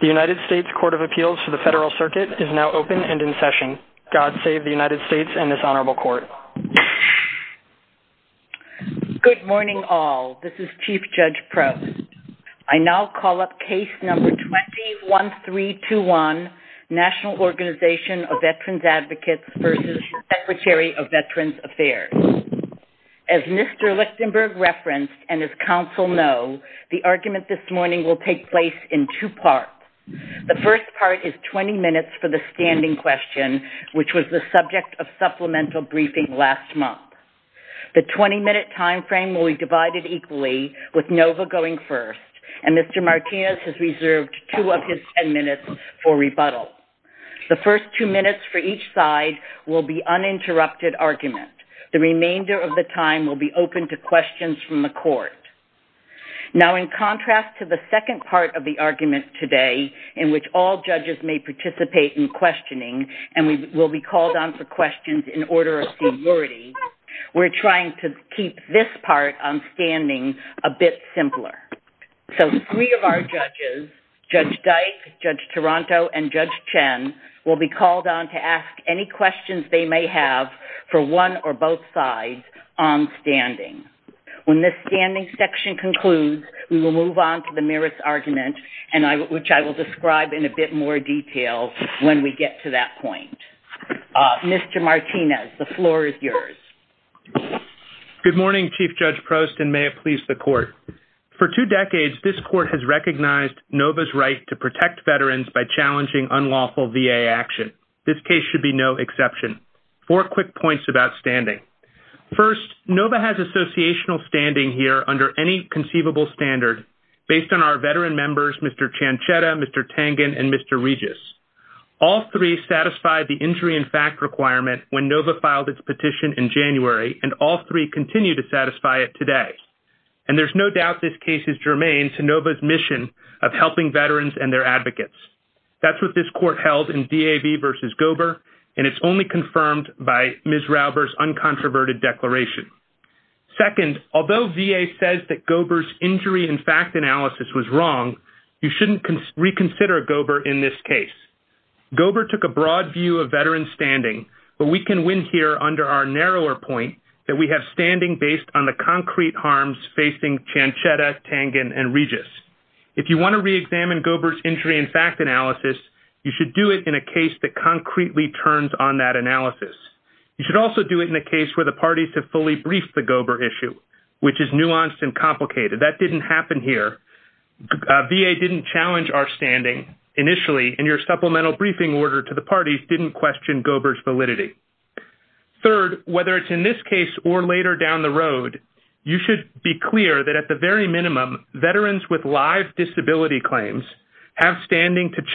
The United States Court of Appeals to the Federal Circuit is now open and in session. God save the United States and this Honorable Court. Good morning all, this is Chief Judge Prost. I now call up case number 21321, National Organization of Veterans Advocates v. Secretary of Veterans Affairs. As Mr. Lichtenberg referenced and as counsel know, the hearing will take place in two parts. The first part is 20 minutes for the standing question, which was the subject of supplemental briefing last month. The 20-minute time frame will be divided equally with NOVA going first and Mr. Martinez has reserved two of his 10 minutes for rebuttal. The first two minutes for each side will be uninterrupted argument. The remainder of the time will be open to questions from the court. Now in contrast to the second part of the argument today, in which all judges may participate in questioning and we will be called on for questions in order of severity, we're trying to keep this part on standing a bit simpler. So three of our judges, Judge Dyke, Judge Taranto, and Judge Chen will be called on to ask any questions they may have for one or both sides on standing. When this standing section concludes, we will move on to the nearest argument and which I will describe in a bit more detail when we get to that point. Mr. Martinez, the floor is yours. Good morning Chief Judge Prost and may it please the court. For two decades, this court has recognized NOVA's right to protect veterans by challenging unlawful VA action. This case should be no exception. Four quick points about standing. First, NOVA has associational standing here under any conceivable standard based on our veteran members, Mr. Cianchetta, Mr. Tangen, and Mr. Regis. All three satisfied the injury and fact requirement when NOVA filed its petition in January and all three continue to satisfy it today. And there's no doubt this case is germane to NOVA's mission of helping veterans and their advocates. That's what this court held in DAV v. Gober and it's only confirmed by Ms. Rauber's uncontroverted declaration. Second, although VA says that Gober's injury and fact analysis was wrong, you shouldn't reconsider Gober in this case. Gober took a broad view of veteran standing but we can win here under our narrower point that we have standing based on the concrete harms facing Cianchetta, Tangen, and Regis. If you want to re-examine Gober's injury and fact analysis, you should do it in a case that concretely turns on that analysis. You should also do it in a case where the parties have fully briefed the Gober issue, which is nuanced and complicated. That didn't happen here. VA didn't challenge our standing initially and your supplemental briefing order to the parties didn't question Gober's validity. Third, whether it's in this case or later down the road, you should be clear that at the very minimum, veterans with live disability claims have standing to make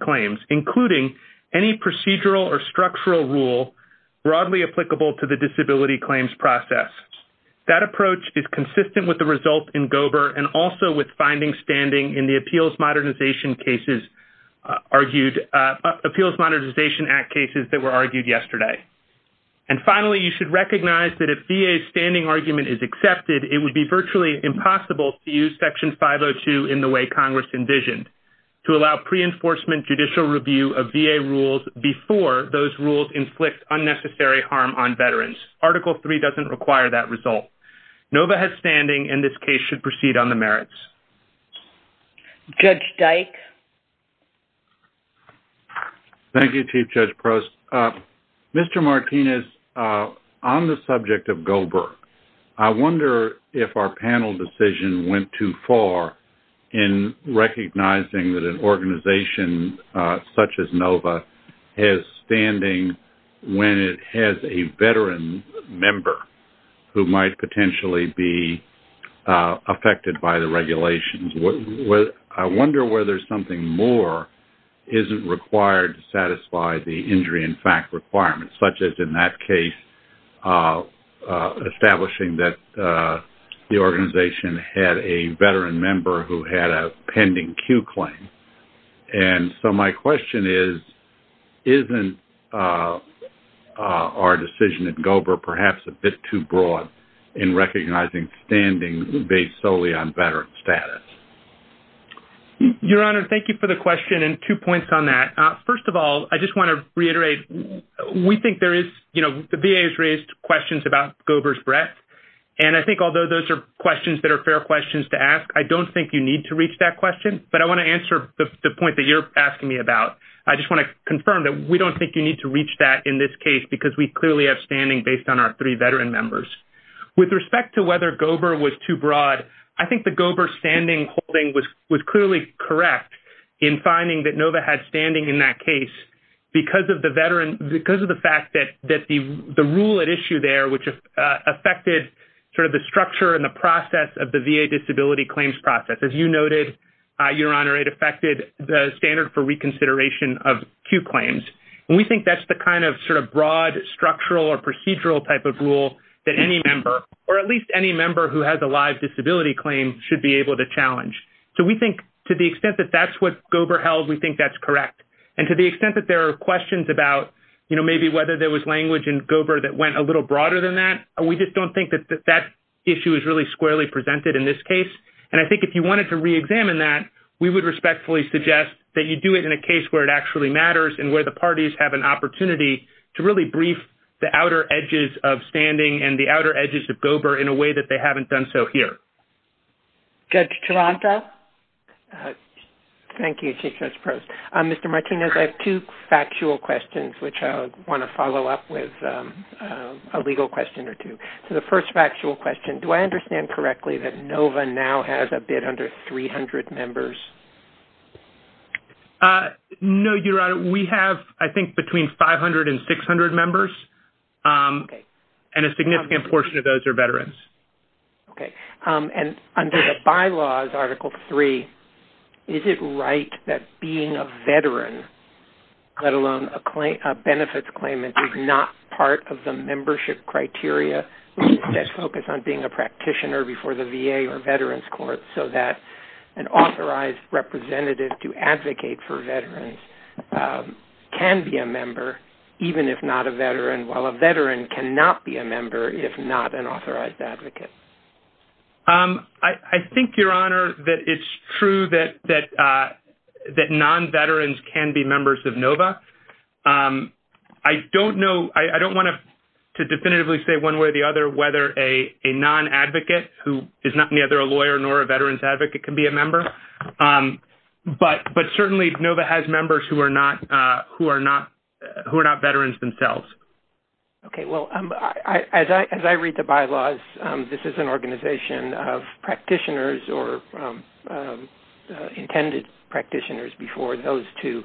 claims, including any procedural or structural rule broadly applicable to the disability claims process. That approach is consistent with the result in Gober and also with finding standing in the Appeals Modernization Act cases that were argued yesterday. And finally, you should recognize that if VA's standing argument is accepted, it would be virtually impossible to use review of VA rules before those rules inflict unnecessary harm on veterans. Article 3 doesn't require that result. NOVA has standing and this case should proceed on the merits. Judge Dyke? Thank you, Chief Judge Prost. Mr. Martinez, on the subject of Gober, I wonder if our panel decision went too far in recognizing that an organization such as NOVA has standing when it has a veteran member who might potentially be affected by the regulations. I wonder whether something more isn't required to satisfy the injury in fact requirements, such as in that case, establishing that the organization had a veteran member who had a pending Q claim. And so my question is, isn't our decision at Gober perhaps a bit too broad in recognizing standing based solely on veteran status? Your Honor, thank you for the question and two points on that. First of all, I just want to reiterate, we think there is, you know, the VA has raised questions about Gober's breadth and I think although those are questions that are questions to ask, I don't think you need to reach that question. But I want to answer the point that you're asking me about. I just want to confirm that we don't think you need to reach that in this case because we clearly have standing based on our three veteran members. With respect to whether Gober was too broad, I think the Gober standing holding was clearly correct in finding that NOVA had standing in that case because of the veteran, because of the fact that the rule at issue there, which affected sort of the VA disability claims process. As you noted, Your Honor, it affected the standard for reconsideration of Q claims. And we think that's the kind of sort of broad structural or procedural type of rule that any member or at least any member who has a live disability claim should be able to challenge. So we think to the extent that that's what Gober held, we think that's correct. And to the extent that there are questions about, you know, maybe whether there was language in Gober that went a little broader than that, we just don't think that that issue is really squarely presented in this case. And I think if you wanted to reexamine that, we would respectfully suggest that you do it in a case where it actually matters and where the parties have an opportunity to really brief the outer edges of standing and the outer edges of Gober in a way that they haven't done so here. Judge Chilanta? Thank you, Chief Justice Prost. Mr. Martinez, I have two factual questions which I want to follow up with a legal question or two. So the first factual question, do I understand correctly that NOVA now has a bid under 300 members? No, Your Honor. We have, I think, between 500 and 600 members. And a significant portion of those are veterans. Okay. And under the bylaws, Article 3, is it right that being a veteran, let alone a benefits claim that is not part of the membership criteria, that's focused on being a practitioner before the VA or Veterans Court so that an authorized representative to advocate for veterans can be a member even if not a veteran while a veteran cannot be a member if not an authorized advocate? I think, Your Honor, that it's true that non-veterans can be members of NOVA. I don't know, I don't want to definitively say one way or the other whether a non-advocate who is neither a lawyer nor a veteran's advocate can be a member. But certainly, NOVA has members who are not veterans themselves. Okay. Well, as I read the bylaws, this is an organization of practitioners or intended practitioners before those two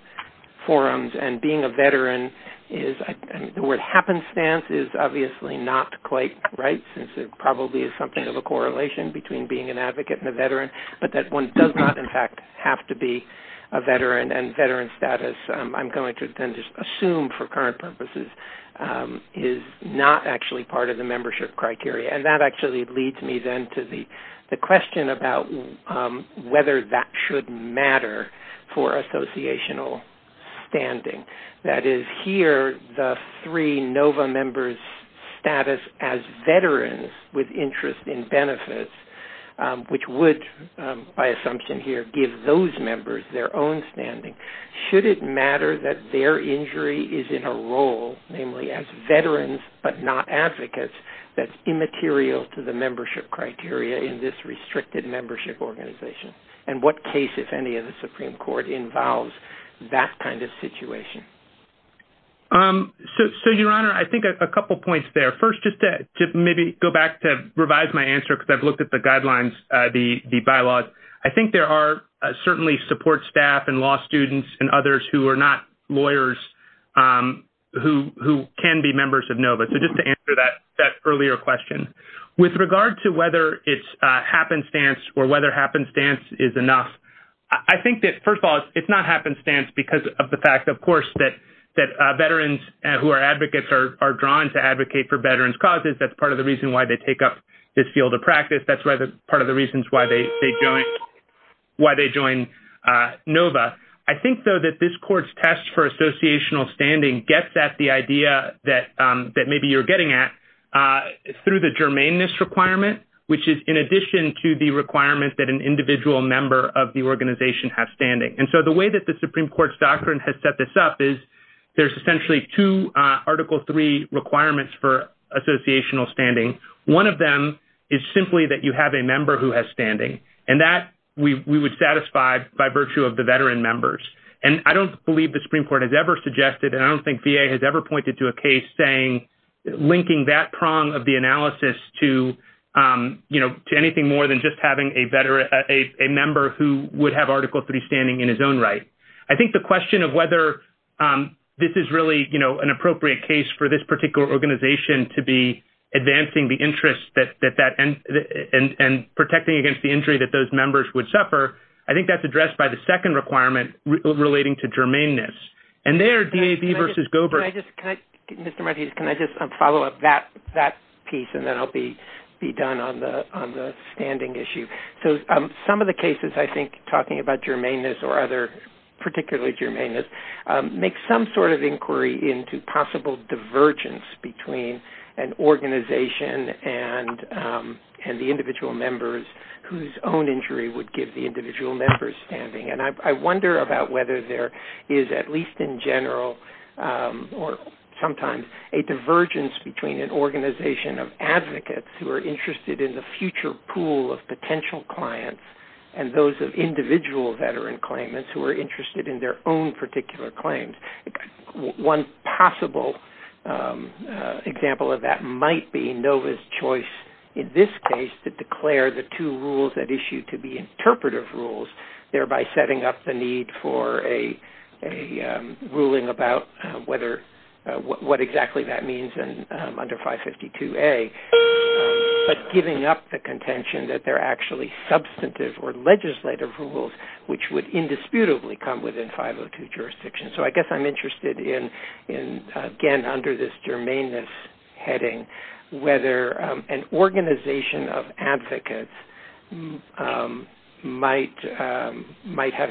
forums. And being a veteran, the word happenstance is obviously not quite right since it probably is something of a correlation between being an advocate and a veteran. But that one does not, in fact, have to be a veteran and veteran status, I'm going to then just assume for current purposes, is not actually part of the membership criteria. And that actually leads me then to the question of whether that should matter for associational standing. That is, here, the three NOVA members' status as veterans with interest in benefits, which would, by assumption here, give those members their own standing. Should it matter that their injury is in a role, namely as veterans but not advocates, that's immaterial to the membership criteria in this restricted membership organization? And what case, if any, of the Supreme Court involves that kind of situation? So, Your Honor, I think a couple of points there. First, just to maybe go back to revise my answer because I've looked at the guidelines, the bylaws. I think there are certainly support staff and law students and others who are not lawyers who can be members of NOVA. So just to answer that earlier question. With regard to whether it's happenstance or whether happenstance is enough, I think that, first of all, it's not happenstance because of the fact, of course, that veterans who are advocates are drawn to advocate for veterans' causes. That's part of the reason why they take up this field of practice. That's part of the reasons why they join NOVA. I think, though, that this Court's test for associational standing gets at the idea that maybe you're main this requirement, which is in addition to the requirement that an individual member of the organization has standing. And so the way that the Supreme Court's doctrine has set this up is there's essentially two Article III requirements for associational standing. One of them is simply that you have a member who has standing. And that we would satisfy by virtue of the veteran members. And I don't believe the Supreme Court has ever suggested, and I don't think VA has ever pointed to a case saying, linking that prong of the analysis to anything more than just having a member who would have Article III standing in his own right. I think the question of whether this is really an appropriate case for this particular organization to be advancing the interest and protecting against the injury that those members would suffer, I think that's Mr. Martinez, can I just follow up that piece, and then I'll be done on the standing issue. So some of the cases, I think, talking about germaneness or other particularly germaneness, make some sort of inquiry into possible divergence between an organization and the individual members whose own injury would give the individual members standing. And I a divergence between an organization of advocates who are interested in the future pool of potential clients and those of individual veteran claimants who are interested in their own particular claims. One possible example of that might be NOVA's choice in this case to declare the two rules that issue to be interpretive rules, thereby setting up the need for a ruling about whether what exactly that means in under 552A, but giving up the contention that they're actually substantive or legislative rules which would indisputably come within 502 jurisdiction. So I guess I'm interested in, again, under this germaneness heading, whether an organization of advocates might have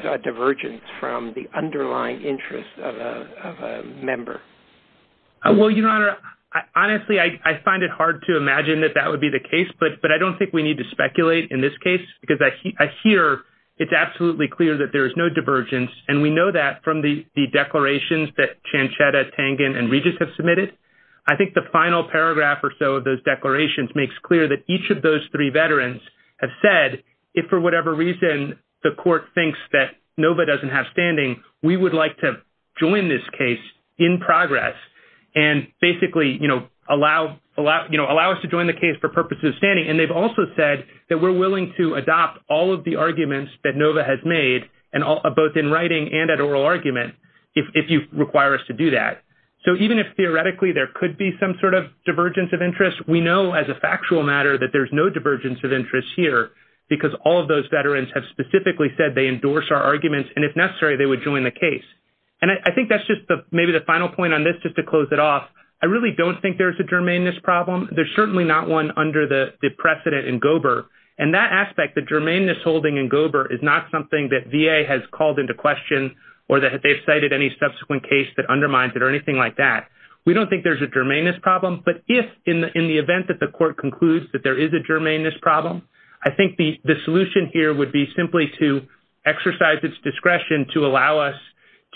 a divergence from the underlying interest of a member. Well, Your Honor, honestly, I find it hard to imagine that that would be the case, but I don't think we need to speculate in this case because I hear it's absolutely clear that there is no divergence. And we know that from the declarations that Chanchetta, Tangen, and Regis have submitted. I think the final paragraph or so of those declarations makes clear that each of those three veterans have said, if for whatever reason, the court thinks that NOVA doesn't have and basically, you know, allow us to join the case for purposes of standing, and they've also said that we're willing to adopt all of the arguments that NOVA has made, and both in writing and at oral argument, if you require us to do that. So even if theoretically, there could be some sort of divergence of interest, we know as a factual matter that there's no divergence of interest here because all of those veterans have specifically said they endorse our arguments, and if necessary, they would join the case. And I think that's just maybe the final point on this just to close it off. I really don't think there's a germaneness problem. There's certainly not one under the precedent in Gober, and that aspect, the germaneness holding in Gober is not something that VA has called into question, or that they've cited any subsequent case that undermines it or anything like that. We don't think there's a germaneness problem, but if in the event that the court concludes that there is a germaneness problem, I think the solution here would be simply to exercise its discretion to allow us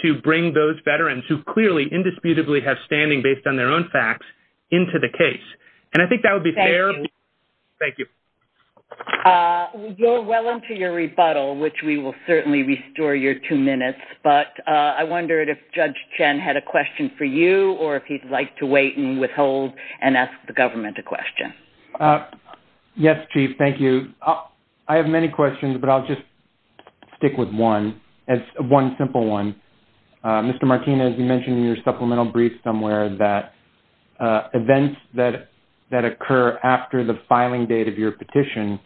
to bring those veterans who clearly indisputably have standing based on their own facts into the case. And I think that would be fair. Thank you. Joel, welcome to your rebuttal, which we will certainly restore your two minutes, but I wondered if Judge Chen had a question for you or if he'd like to wait and withhold and ask the government a question. Yes, Chief. Thank you. I have many questions, but I'll just stick with one, one simple one. Mr. Martinez, you mentioned in your supplemental brief somewhere that events that occur after the filing date of your petition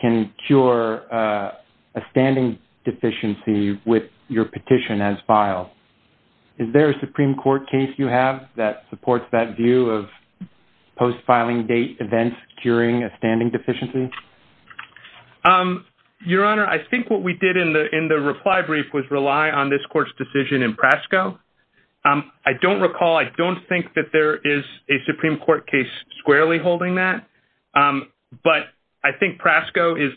can cure a standing deficiency with your petition as filed. Is there a Supreme Court case you have that supports that view of post-filing date events curing a standing deficiency? Your Honor, I think what we did in the reply brief was rely on this court's decision in Prasco. I don't recall, I don't think that there is a Supreme Court case squarely holding that, but I think Prasco is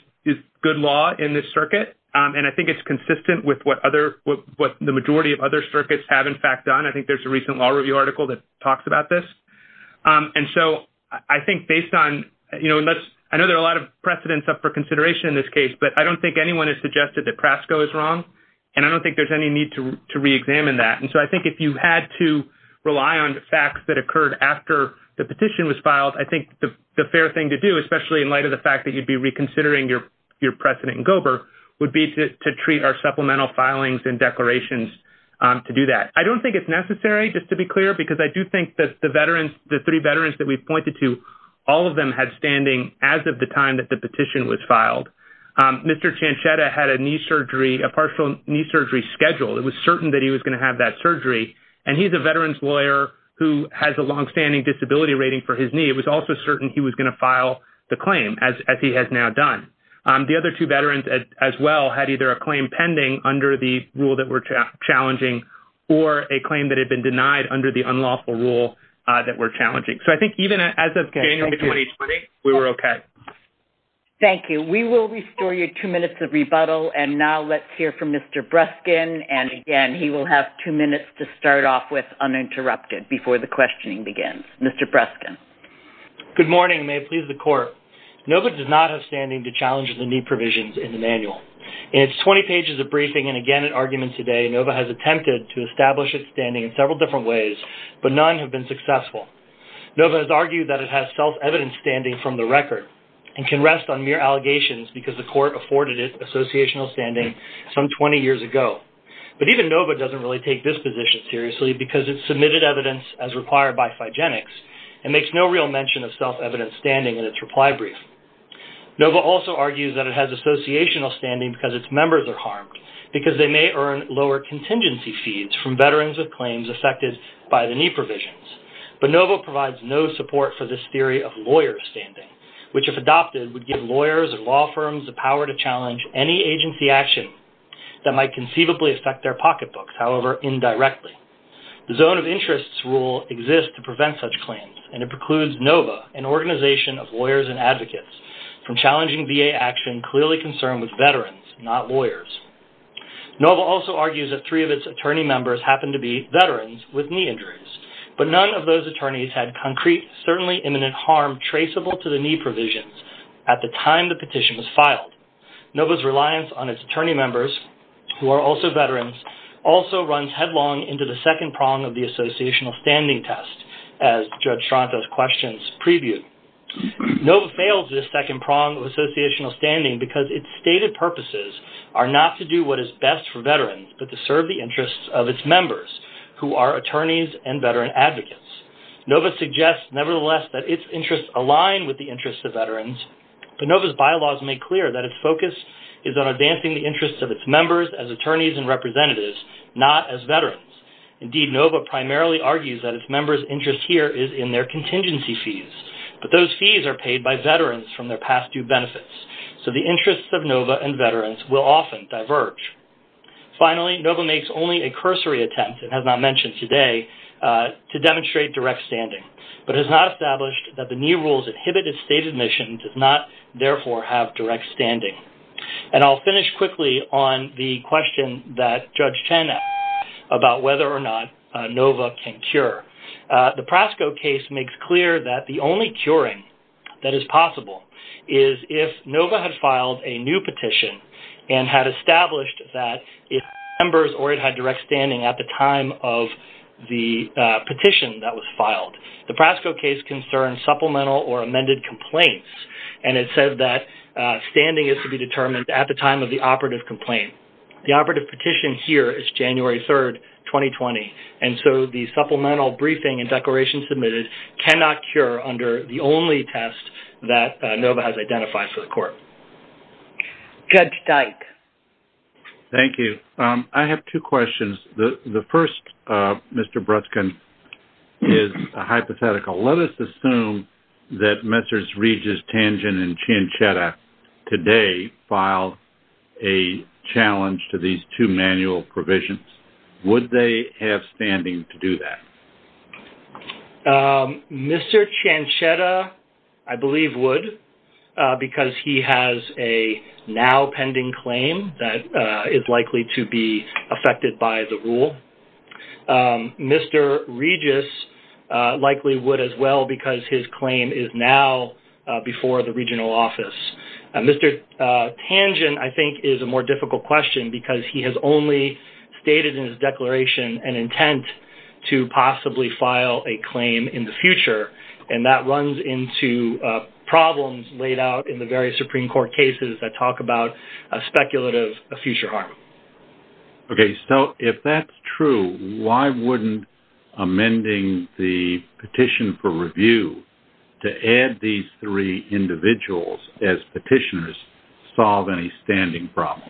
good law in this circuit, and I think it's consistent with what the majority of other circuits have in fact done. I think there's a recent Law Review article that talks about this. And so I think based on, you know, I know there are a lot of precedents up for I don't think anyone has suggested that Prasco is wrong, and I don't think there's any need to reexamine that. And so I think if you had to rely on the facts that occurred after the petition was filed, I think the fair thing to do, especially in light of the fact that you'd be reconsidering your precedent in Gober, would be to treat our supplemental filings and declarations to do that. I don't think it's necessary, just to be clear, because I do think that the veterans, the three veterans that we've pointed to, all of them had standing as of the time that the Mr. Ciancietta had a knee surgery, a partial knee surgery schedule. It was certain that he was going to have that surgery. And he's a veterans lawyer who has a longstanding disability rating for his knee. It was also certain he was going to file the claim, as he has now done. The other two veterans as well had either a claim pending under the rule that were challenging, or a claim that had been denied under the unlawful rule that were challenging. So I think even as of January 2020, we were okay. Thank you. We will restore you two minutes of rebuttal. And now let's hear from Mr. Breskin. And again, he will have two minutes to start off with uninterrupted before the questioning begins. Mr. Breskin. Good morning, and may it please the Court. NOVA does not have standing to challenge the knee provisions in the manual. In its 20 pages of briefing, and again in argument today, NOVA has attempted to establish its standing in several different ways, but none have been successful. NOVA has argued that it has self-evidence standing from the record, and can rest on mere allegations because the Court afforded it associational standing some 20 years ago. But even NOVA doesn't really take this position seriously, because it's submitted evidence as required by Phygenics, and makes no real mention of self-evidence standing in its reply brief. NOVA also argues that it has associational standing because its members are harmed, because they may earn lower contingency fees from veterans of claims affected by the knee provisions. But NOVA provides no support for this theory of lawyer standing, which if adopted, would give lawyers and law firms the power to challenge any agency action that might conceivably affect their pocketbooks, however indirectly. The zone of interest rule exists to prevent such claims, and it precludes NOVA, an organization of lawyers and advocates, from challenging VA action clearly concerned with veterans, not lawyers. NOVA also argues that three of its But none of those attorneys had concrete, certainly imminent harm traceable to the knee provisions at the time the petition was filed. NOVA's reliance on its attorney members, who are also veterans, also runs headlong into the second prong of the associational standing test, as Judge Stronto's questions previewed. NOVA fails this second prong of associational standing because its stated purposes are not to do what is best for veterans, but to serve the interests of its members, who are attorneys and veteran advocates. NOVA suggests nevertheless that its interests align with the interests of veterans, but NOVA's bylaws make clear that its focus is on advancing the interests of its members as attorneys and representatives, not as veterans. Indeed, NOVA primarily argues that its members' interest here is in their contingency fees, but those fees are paid by veterans from their past due benefits. So the interests of NOVA and veterans will often diverge. Finally, NOVA makes only a cursory attempt, it has not mentioned today, to demonstrate direct standing, but has not established that the knee rule's inhibited stated mission does not therefore have direct standing. And I'll finish quickly on the question that Judge Chen asked about whether or not NOVA can cure. The Prasco case makes clear that the and had established that its members already had direct standing at the time of the petition that was filed. The Prasco case concerns supplemental or amended complaints, and it says that standing is to be determined at the time of the operative complaint. The operative petition here is January 3, 2020, and so the supplemental briefing and declaration submitted cannot cure under the only test that NOVA has identified for the court. Judge Dyke. Thank you. I have two questions. The first, Mr. Bruskin, is a hypothetical. Let us assume that Messrs. Regis, Tangent, and Ciancietta today filed a challenge to these two manual provisions. Would they have standing to do that? Mr. Ciancietta, I believe, would because he has a now pending claim that is likely to be affected by the rule. Mr. Regis likely would as well because his claim is now before the regional office. Mr. Tangent, I think, is a more difficult question because he has only stated in his file a claim in the future, and that runs into problems laid out in the various Supreme Court cases that talk about speculative future harm. Okay, so if that is true, why would not amending the petition for review to add these three individuals as petitioners solve any standing problem?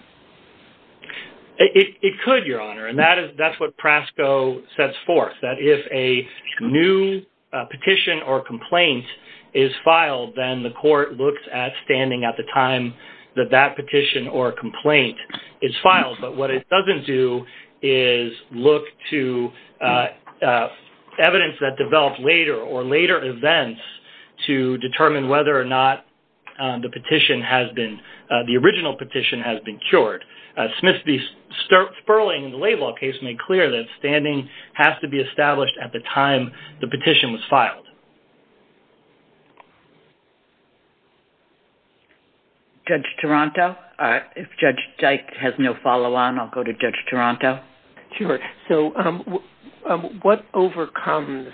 It could, Your Honor, and that is what PRASCO sets forth. If a new petition or complaint is filed, then the court looks at standing at the time that that petition or complaint is filed, but what it does not do is look to evidence that develops later or later events to determine whether or not the original petition has been cured. Smith v. Sterling in the Laid Law case made clear that standing has to be established at the time the petition was filed. Judge Taranto, if Judge Dyke has no follow-on, I will go to Judge Taranto. Sure. So what overcomes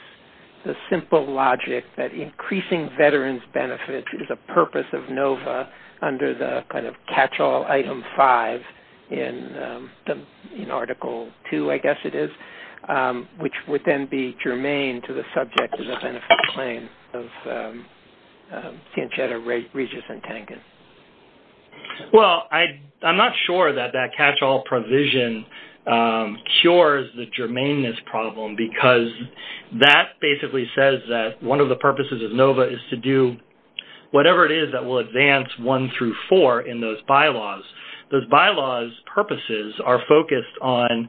the simple logic that increasing veterans' benefits is a purpose of NOVA under the kind of catch-all item 5 in Article 2, I guess it is, which would then be germane to the subject of the benefit claim of Sanchedo Regis and Tangent? Well, I am not sure that that cures the germaneness problem because that basically says that one of the purposes of NOVA is to do whatever it is that will advance 1 through 4 in those bylaws. Those bylaws' purposes are focused on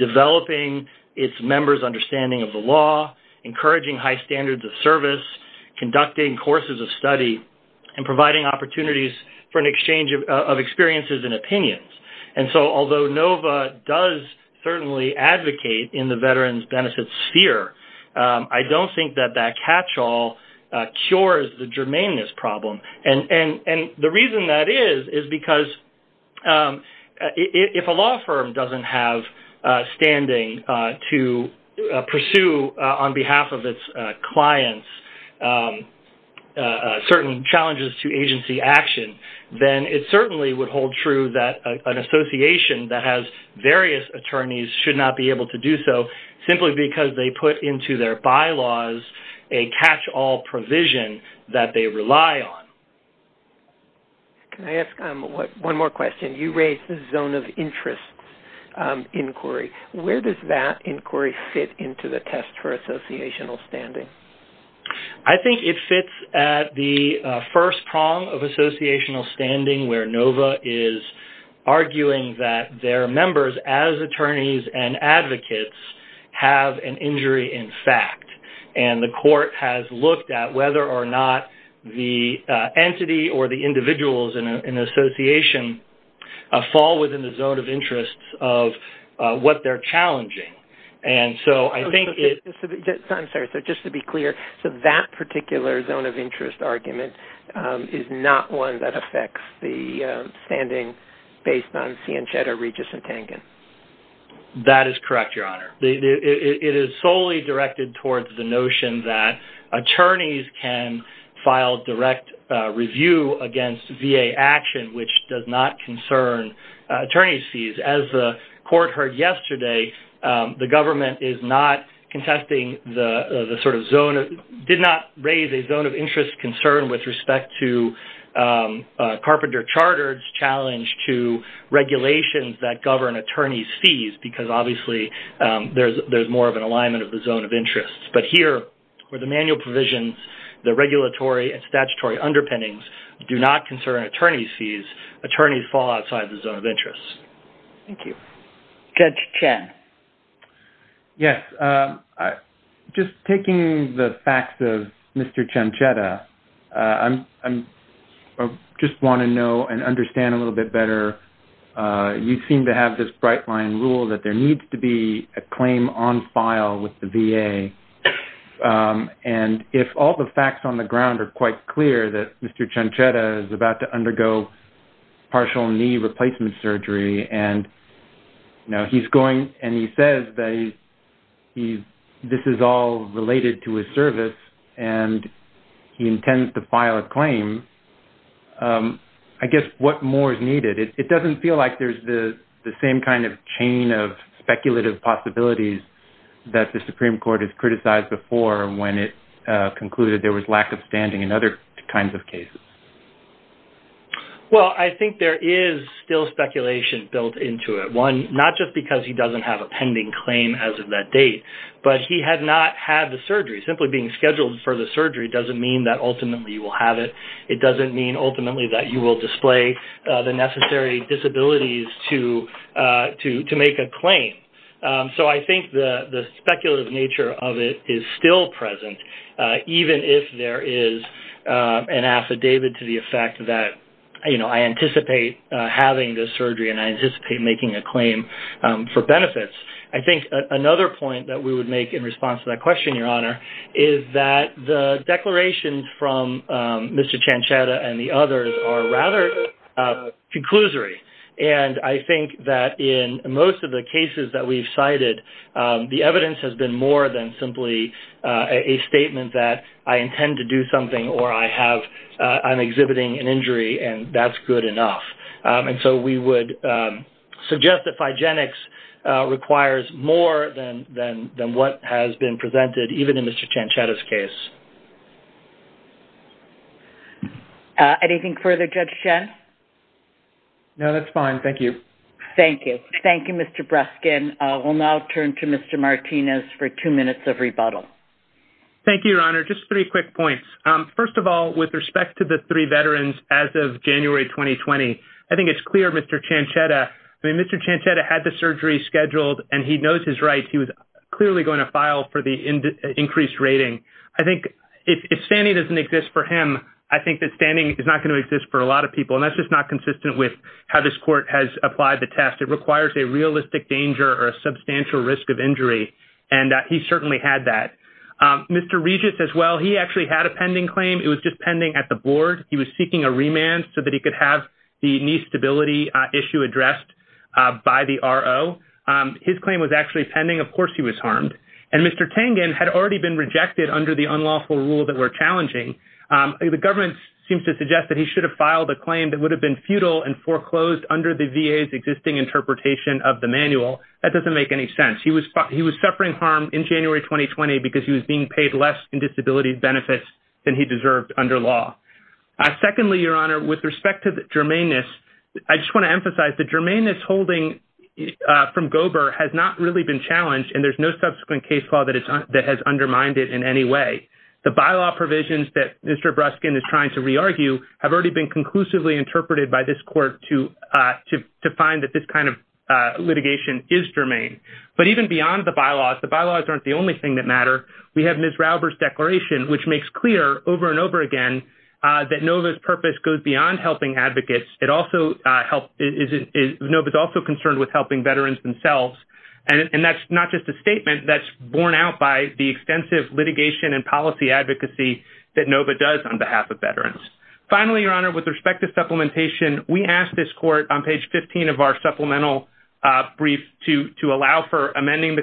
developing its members' understanding of the law, encouraging high standards of service, conducting courses of study, and providing opportunities for an exchange of certainly advocate in the veterans' benefits sphere. I do not think that that catch-all cures the germaneness problem. And the reason that is, is because if a law firm does not have standing to pursue on behalf of its clients certain challenges to agency action, then it attorneys should not be able to do so simply because they put into their bylaws a catch-all provision that they rely on. Can I ask one more question? You raised the zone of interest inquiry. Where does that inquiry fit into the test for associational standing? I think it fits at the first prong of associational standing where NOVA is arguing that their members as attorneys and advocates have an injury in fact, and the court has looked at whether or not the entity or the individuals in the association fall within the zone of interest of what they are challenging. Just to be clear, that particular zone of interest argument is not one that affects the standing based on Ciencietta, Regis, and Pangan. That is correct, Your Honor. It is solely directed towards the notion that attorneys can file direct review against VA action, which does not concern attorney's fees. As the court heard yesterday, the government is not contesting the sort of zone, did not raise a zone of interest concern with respect to Carpenter Charter's challenge to regulations that govern attorney's fees because obviously, there is more of an alignment of the zone of interest. But here, for the manual provisions, the regulatory and statutory underpinnings do not concern attorney's fees. Attorneys fall outside the zone of interest. Thank you. Kent Chen. Yes. Just taking the facts of Mr. Ciencietta, I just want to know and understand a little bit better. You seem to have this bright line rule that there needs to be a claim on file with the VA. And if all the facts on the ground are quite clear that Mr. Ciencietta is about to undergo partial knee replacement surgery and now he's going and he says that this is all related to his service and he intends to file a claim, I guess what more is needed? It doesn't feel like there's the same kind of chain of speculative possibilities that the Supreme Court has criticized before when it concluded there was lack of standing in other kinds of cases. Well, I think there is still speculation built into it. One, not just because he doesn't have a pending claim as of that date, but he had not had the surgery. Simply being scheduled for the surgery doesn't mean that ultimately you will have it. It doesn't mean ultimately that you will display the necessary disabilities to make a claim. So, I think the speculative nature of it is still present even if there is an affidavit to the effect that, you know, I anticipate having this surgery and I anticipate making a claim for benefits. I think another point that we would make in response to that question, Your Honor, is that the declaration from Mr. Ciencietta and the others are rather conclusory. And I think that in most of the cases that we've heard, it's more than simply a statement that I intend to do something or I'm exhibiting an injury and that's good enough. And so, we would suggest that Phygenics requires more than what has been presented, even in Mr. Ciencietta's case. Anything further, Judge Schen? No, that's fine. Thank you. Thank you. Thank you, Mr. Breskin. We'll now turn to Mr. Martinez for two minutes of rebuttal. Thank you, Your Honor. Just three quick points. First of all, with respect to the three veterans as of January 2020, I think it's clear Mr. Ciencietta, I mean, Mr. Ciencietta had the surgery scheduled and he knows his rights. He was clearly going to file for the increased rating. I think if standing doesn't exist for him, I think that standing is not going to exist for a lot of people and that's just not consistent with how this court has applied the test. It requires a realistic danger or a substantial risk of injury and he certainly had that. Mr. Regis as well, he actually had a pending claim. It was just pending at the board. He was seeking a remand so that he could have the knee stability issue addressed by the RO. His claim was actually pending. Of course, he was harmed. And Mr. Tangen had already been rejected under the unlawful rule that we're challenging. The government seems to suggest that he should have filed a claim that would have been futile and foreclosed under the VA's existing interpretation of the manual. That doesn't make any sense. He was suffering harm in January 2020 because he was being paid less in disability benefits than he deserved under law. Secondly, Your Honor, with respect to the germaneness, I just want to emphasize the germaneness holding from Gober has not really been challenged and there's no subsequent case law that has undermined it in any way. The bylaw provisions that Mr. Breskin is trying to re-argue have already been conclusively interpreted by this court to find that this kind of litigation is germane. But even beyond the bylaws, the bylaws aren't the only thing that matter. We have Ms. Rauber's declaration which makes clear over and over again that NOVA's purpose goes beyond helping advocates. It also also concerned with helping veterans themselves. And that's not just a statement that's borne out the extensive litigation and policy advocacy that NOVA does on behalf of veterans. Finally, Your Honor, with respect to supplementation, we asked this court on page 15 of our supplemental brief to allow for amending the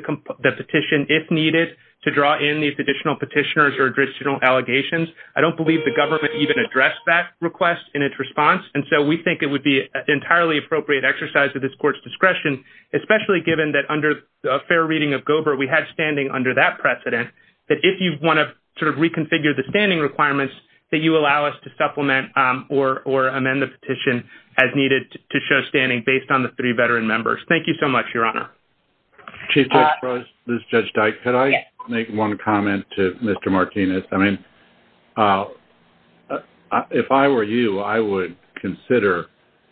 petition if needed to draw in these additional petitioners or additional allegations. I don't believe the government even addressed that request in its response. And so we think it would be entirely appropriate exercise of this court's discretion, especially given that under a fair reading of Gober, we had standing under that precedent, that if you want to sort of reconfigure the standing requirements, that you allow us to supplement or amend the petition as needed to show standing based on the three veteran members. Thank you so much, Your Honor. Chief Judge Brez, Ms. Judge Dyke, could I make one comment to Mr. Martinez? I mean, if I were you, I would consider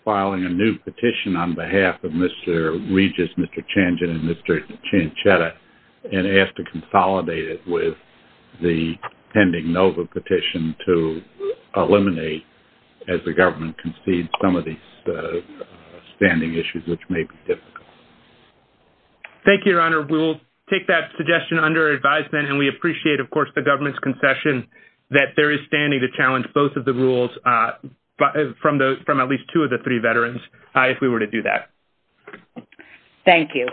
filing a new petition on behalf of Mr. Regis, Mr. Changin, and Mr. Chinchetta and ask to consolidate it with the pending NOVA petition to eliminate, as the government concedes, some of these standing issues, which may be difficult. Thank you, Your Honor. We will take that suggestion under advisement. And we appreciate, of course, the government's concession that there is standing to challenge both of the rules from at least two of the three veterans, if we were to do that. Thank you.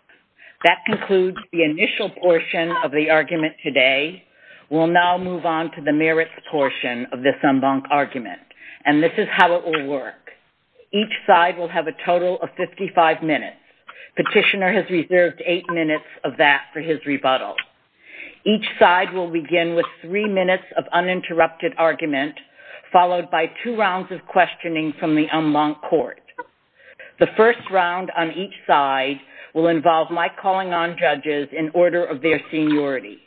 That concludes the initial portion of the argument today. We'll now move on to the merits portion of this en banc argument. And this is how it will work. Each side will have a total of 55 minutes. Petitioner has reserved eight minutes of that for his rebuttal. Each side will begin with three minutes of uninterrupted argument, followed by two rounds of questioning from the en banc court. The first round on each side will involve my calling on judges in order of their seniority.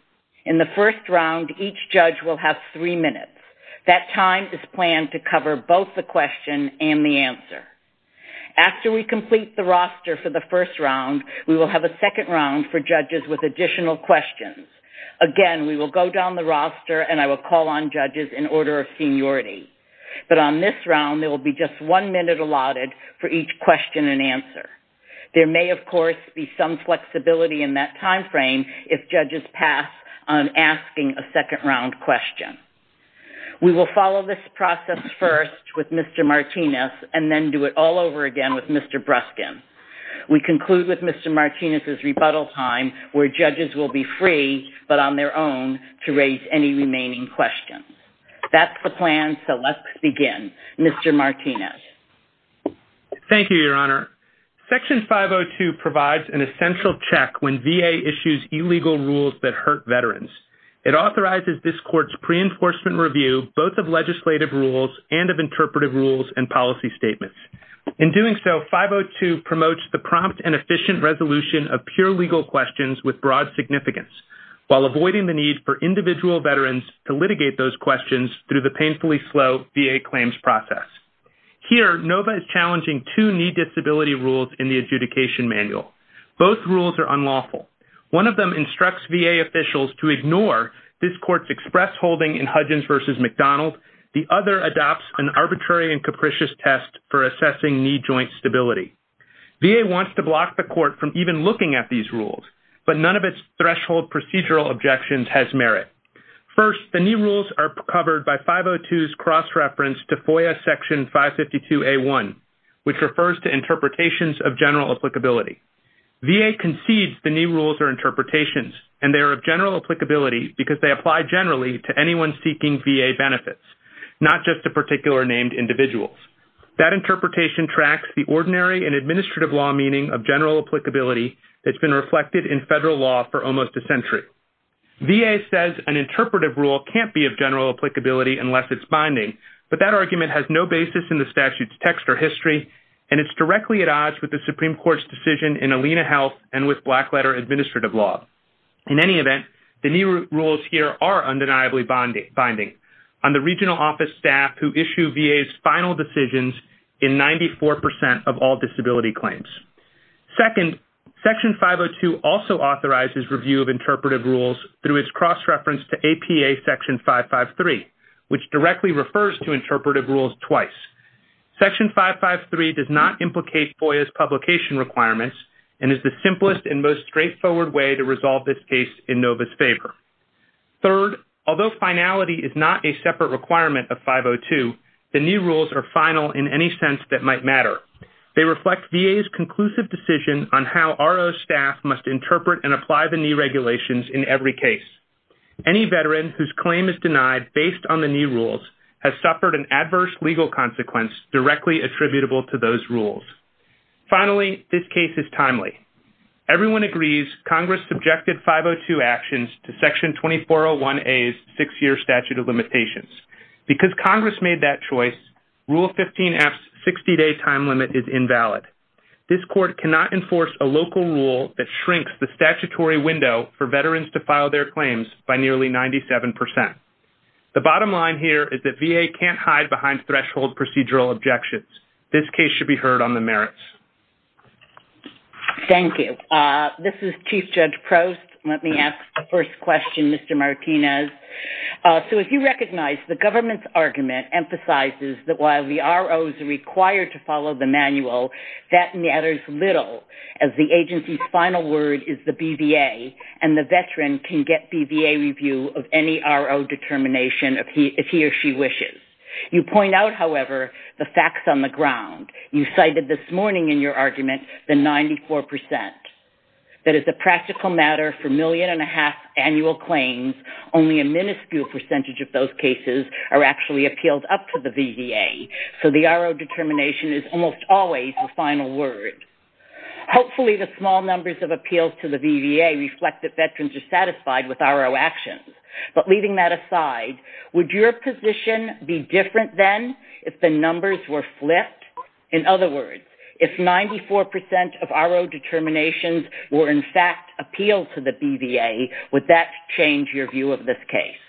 In the first round, each judge will have three minutes. That time is planned to cover both the question and the answer. After we complete the roster for the first round, we will have a second round for judges with additional questions. Again, we will go down the roster and I will call on judges in order of seniority. But on this round, there will be just one minute allotted for each question and answer. There may, of course, be some flexibility in that timeframe if judges pass on asking a second round question. We will follow this process first with Martinez's rebuttal time where judges will be free but on their own to raise any remaining questions. That's the plan, so let's begin. Mr. Martinez. Thank you, Your Honor. Section 502 provides an essential check when VA issues illegal rules that hurt veterans. It authorizes this court's pre-enforcement review both of legislative rules and of interpretive rules and policy statements. In doing so, 502 promotes the prompt and efficient resolution of pure legal questions with broad significance while avoiding the need for individual veterans to litigate those questions through the painfully slow VA claims process. Here, NOVA is challenging two knee disability rules in the adjudication manual. Both rules are unlawful. One of them instructs VA officials to ignore this court's express holding in Hudgins v. McDonald. The other adopts an arbitrary and unbiased for assessing knee joint stability. VA wants to block the court from even looking at these rules, but none of its threshold procedural objections has merit. First, the new rules are covered by 502's cross-reference to FOIA Section 552A1, which refers to interpretations of general applicability. VA concedes the new rules are interpretations and they are of general applicability because they apply generally to anyone seeking VA benefits, not just to particular named individuals. That interpretation tracks the ordinary and administrative law meaning of general applicability that's been reflected in federal law for almost a century. VA says an interpretive rule can't be of general applicability unless it's binding, but that argument has no basis in the statute's text or history, and it's directly at odds with the Supreme Court's decision in Alena Health and with Blackletter Administrative Law. In any event, the new rules here are undeniably binding. On the regional office staff who issue VA's final decisions in 94% of all disability claims. Second, Section 502 also authorizes review of interpretive rules through its cross-reference to APA Section 553, which directly refers to interpretive rules twice. Section 553 does not implicate FOIA's publication requirements and is the simplest and most straightforward way to resolve this case in NOVA's favor. Third, although finality is not a separate requirement of 502, the new rules are final in any sense that might matter. They reflect VA's conclusive decision on how RO staff must interpret and apply the new regulations in every case. Any veteran whose claim is denied based on the new rules has suffered an adverse legal consequence directly attributable to those rules. Finally, this case is timely. Everyone agrees Congress subjected 502 actions to Section 2401A's six-year statute of limitations. Because Congress made that choice, Rule 15F's 60-day time limit is invalid. This court cannot enforce a local rule that shrinks the statutory window for veterans to file their claims by nearly 97%. The bottom line here is that VA can't hide behind threshold procedural objections. This case should be heard on the merits. Thank you. This is Chief Judge Prost. Let me ask the first question, Mr. Martinez. So if you recognize the government's argument emphasizes that while the RO is required to follow the manual, that matters little as the agency's final word is the BVA and the veteran can get BVA review of any RO determination if he or she wishes. You point out, however, the facts on the ground. You cited this morning in your argument the 94%. That is a practical matter for million and a half annual claims. Only a minuscule percentage of those cases are actually appealed up to the BVA. So the RO determination is almost always the final word. Hopefully, the small numbers of appeals to the BVA reflect that veterans are satisfied with RO actions. But leaving that aside, would your position be different then if the numbers were flipped? In other words, if 94% of RO determinations were in fact appealed to the BVA, would that change your view of this case?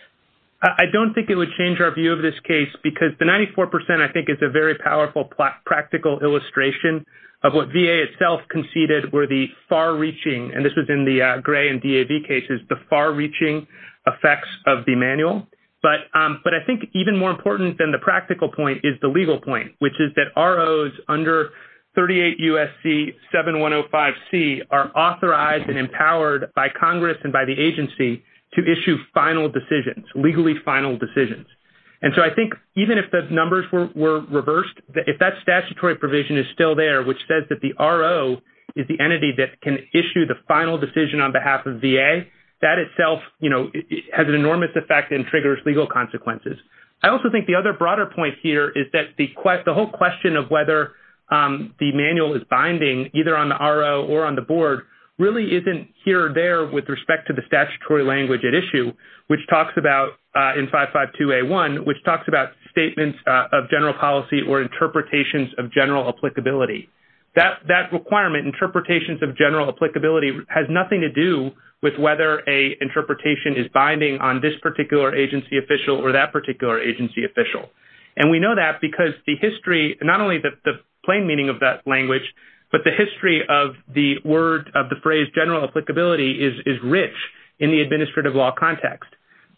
I don't think it would change our view of this case because the 94%, I think, is a very powerful practical illustration of what VA itself conceded were the far-reaching, and this was in the gray and DAV cases, the far-reaching effects of the manual. But I think even more important than the practical point is the legal point, which is that ROs under 38 U.S.C. 7105C are authorized and empowered by Congress and by the agency to issue final decisions, legally final decisions. And so I think even if the numbers were reversed, if that statutory provision is still there, which says that the RO is the entity that can issue the final decision on behalf of VA, that itself, you know, has an enormous effect and triggers legal consequences. I also think the other broader point here is that the whole question of whether the manual is binding either on the RO or on the board really isn't here or there with respect to statutory language at issue, which talks about in 552A1, which talks about statements of general policy or interpretations of general applicability. That requirement, interpretations of general applicability, has nothing to do with whether an interpretation is binding on this particular agency official or that particular agency official. And we know that because the history, not only the plain meaning of that language, but the history of the word, of the phrase general applicability, is rich in the administrative law context.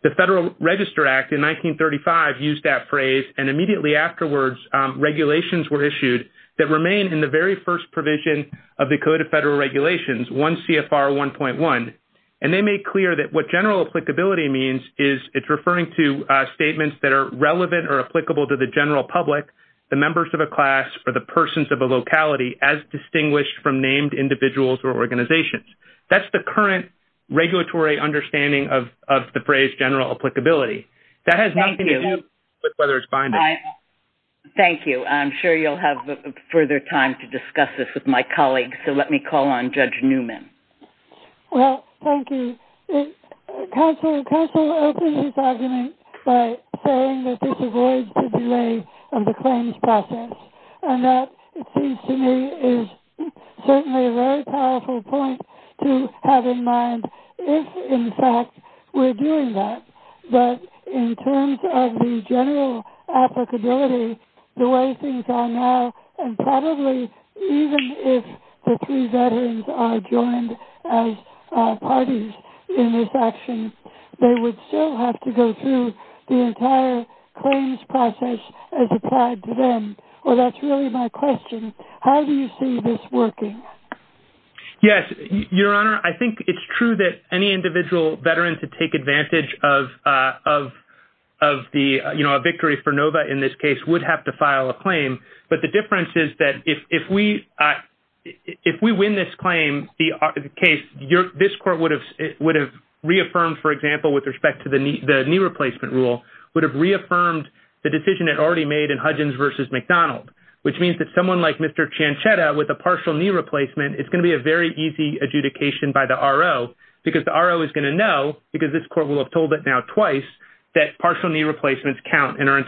The Federal Register Act in 1935 used that phrase. And immediately afterwards, regulations were issued that remain in the very first provision of the Code of Federal Regulations, 1 CFR 1.1. And they make clear that what general applicability means is it's referring to statements that are relevant or applicable to the general public, the members of a class, or the persons of a locality as distinguished from named individuals or organizations. That's the current regulatory understanding of the phrase general applicability. That has nothing to do with whether it's binding. Thank you. I'm sure you'll have further time to discuss this with my colleagues. So let me call on Judge Newman. Well, thank you. Counsel, counsel opened this argument by saying that this avoids the delay of the claims process. And that, it seems to me, is certainly a very powerful point to have in mind if, in fact, we're doing that, that in terms of the general applicability, the way things are now, and probably even if the three veterans are joined as parties in this action, they would still have to go through the entire claims process as applied to them. Well, that's really my question. How do you see this working? Yes, Your Honor, I think it's true that any individual veteran to take advantage of the, you know, a victory for NOVA in this case would have to file a claim. But the difference is that if we win this claim, the case, this court would have reaffirmed, for example, with respect to the knee replacement rule, would have reaffirmed the decision it already made in Hudgins v. McDonald, which means that someone like Mr. Ciancietta with a partial knee replacement, it's going to be a very easy adjudication by the RO, because the RO is going to know, because this court will have told it now twice, that partial knee replacements count and are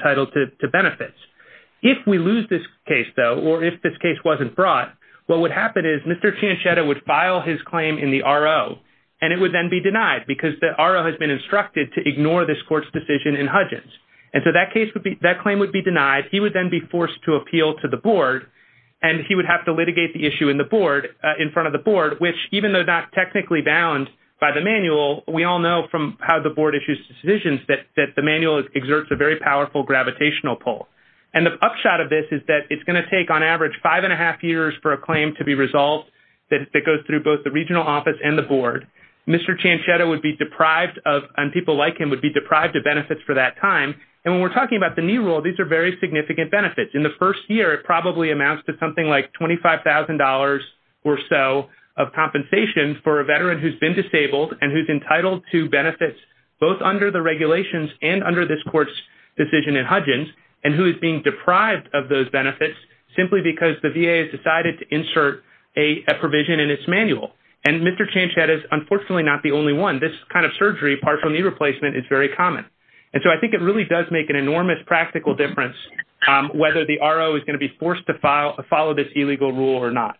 if this case wasn't brought, what would happen is Mr. Ciancietta would file his claim in the RO, and it would then be denied because the RO has been instructed to ignore this court's decision in Hudgins. And so that case would be, that claim would be denied, he would then be forced to appeal to the board. And he would have to litigate the issue in the board in front of the board, which even though not technically bound by the manual, we all know from how the board issues decisions that the manual exerts a very powerful gravitational pull. And the upshot of this is that it's going to take on average five and a half years for a claim to be resolved that goes through both the regional office and the board. Mr. Ciancietta would be deprived of, and people like him would be deprived of benefits for that time. And when we're talking about the knee rule, these are very significant benefits. In the first year, it probably amounts to something like $25,000 or so of compensation for a veteran who's been disabled and who's entitled to benefits, both under the regulations and under this court's decision in Hudgins, and who is being deprived of those benefits simply because the VA has decided to insert a provision in its manual. And Mr. Ciancietta is unfortunately not the only one. This kind of surgery, partial knee replacement, is very common. And so I think it really does make an enormous practical difference whether the RO is going to be forced to follow this illegal rule or not.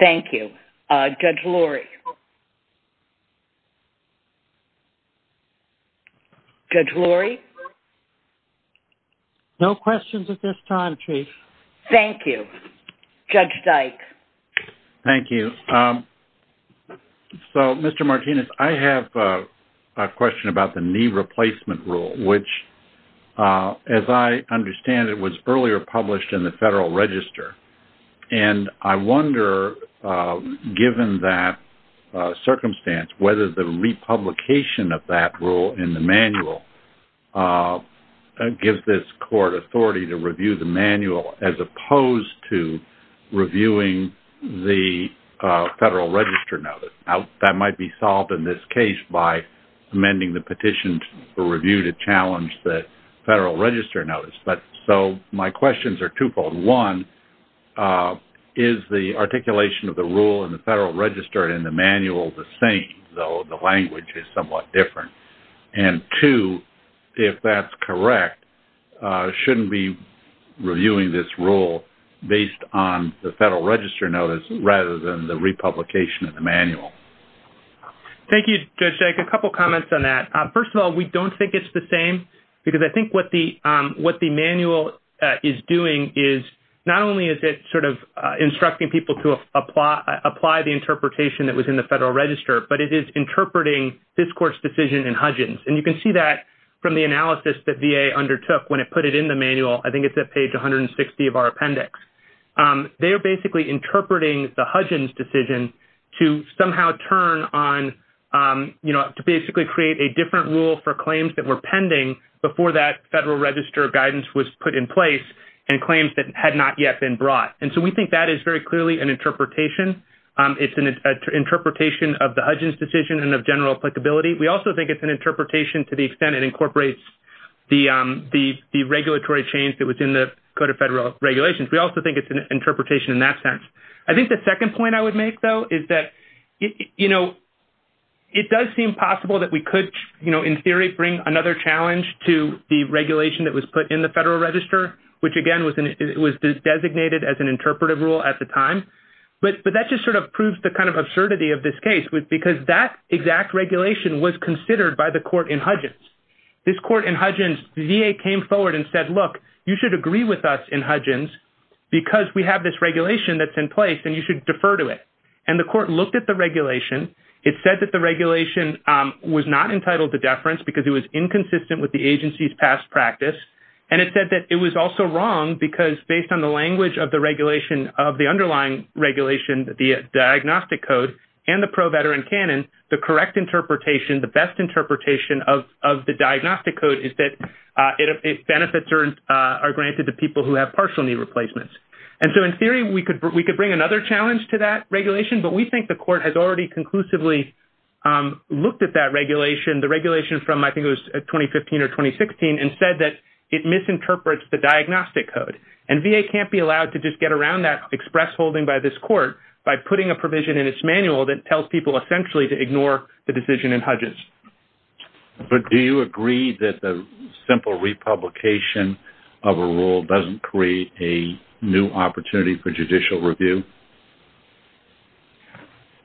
Thank you. Judge Lurie? Judge Lurie? No questions at this time, Chief. Thank you. Judge Dyke? Thank you. So, Mr. Martinez, I have a question about the knee replacement rule, which, as I understand it, was earlier published in the Federal Register. And I wonder, given that circumstance, whether the republication of that rule in the manual gives this court authority to review the manual as opposed to reviewing the Federal Register notice. Now, that might be solved in this case by amending the petition for review to challenge the Federal Register notice. But so my questions are twofold. One, is the articulation of the rule in the Federal Register in the manual the same, though the language is somewhat different? And two, if that's correct, shouldn't we be reviewing this rule based on the Federal Register notice rather than the republication of the manual? Thank you, Judge Dyke. A couple comments on that. First of all, we don't think it's the same because I think what the manual is doing is not only is it sort of instructing people to apply the interpretation that was in the Federal Register, but it is interpreting this court's decision in Hudgins. And you can see that from the analysis that VA undertook when it put it in the manual. I think it's at page 160 of our appendix. They're basically interpreting the Hudgins decision to somehow turn on, you know, to basically create a different rule for claims that were pending before that Federal Register guidance was put in place and claims that had not yet been brought. And so we think that is very clearly an interpretation. It's an interpretation of the Hudgins decision and of general applicability. We also think it's an interpretation to the extent it incorporates the regulatory change that was in the Code of Federal Regulations. We also think it's an interpretation in that sense. I think the second point I would make though is that, you know, it does seem possible that we could, you know, in theory bring another challenge to the regulation that was put in the Federal Register, which again was designated as an interpretive rule at the time. But that just sort of proves the kind of absurdity of this case because that exact regulation was considered by the court in Hudgins. This court in Hudgins, the VA came forward and said, look, you should agree with us in Hudgins because we have this regulation that's in place and you should defer to it. And the court looked at the regulation. It said that the regulation was not entitled to deference because it was inconsistent with the agency's past practice. And it said that it was also wrong because based on the language of the underlying regulation, the diagnostic code and the pro-veteran canon, the correct interpretation, the best interpretation of the diagnostic code is that benefits are granted to people who have partial knee replacements. And so in theory, we could bring another challenge to that regulation, but we think the court has already conclusively looked at that regulation, the regulation from I think it was 2015 or 2016 and said that it misinterprets the diagnostic code. And VA can't be allowed to just get around that express holding by this court by putting a provision in its manual that tells people essentially to ignore the decision in Hudgins. But do you agree that the simple republication of a rule doesn't create a new opportunity for judicial review?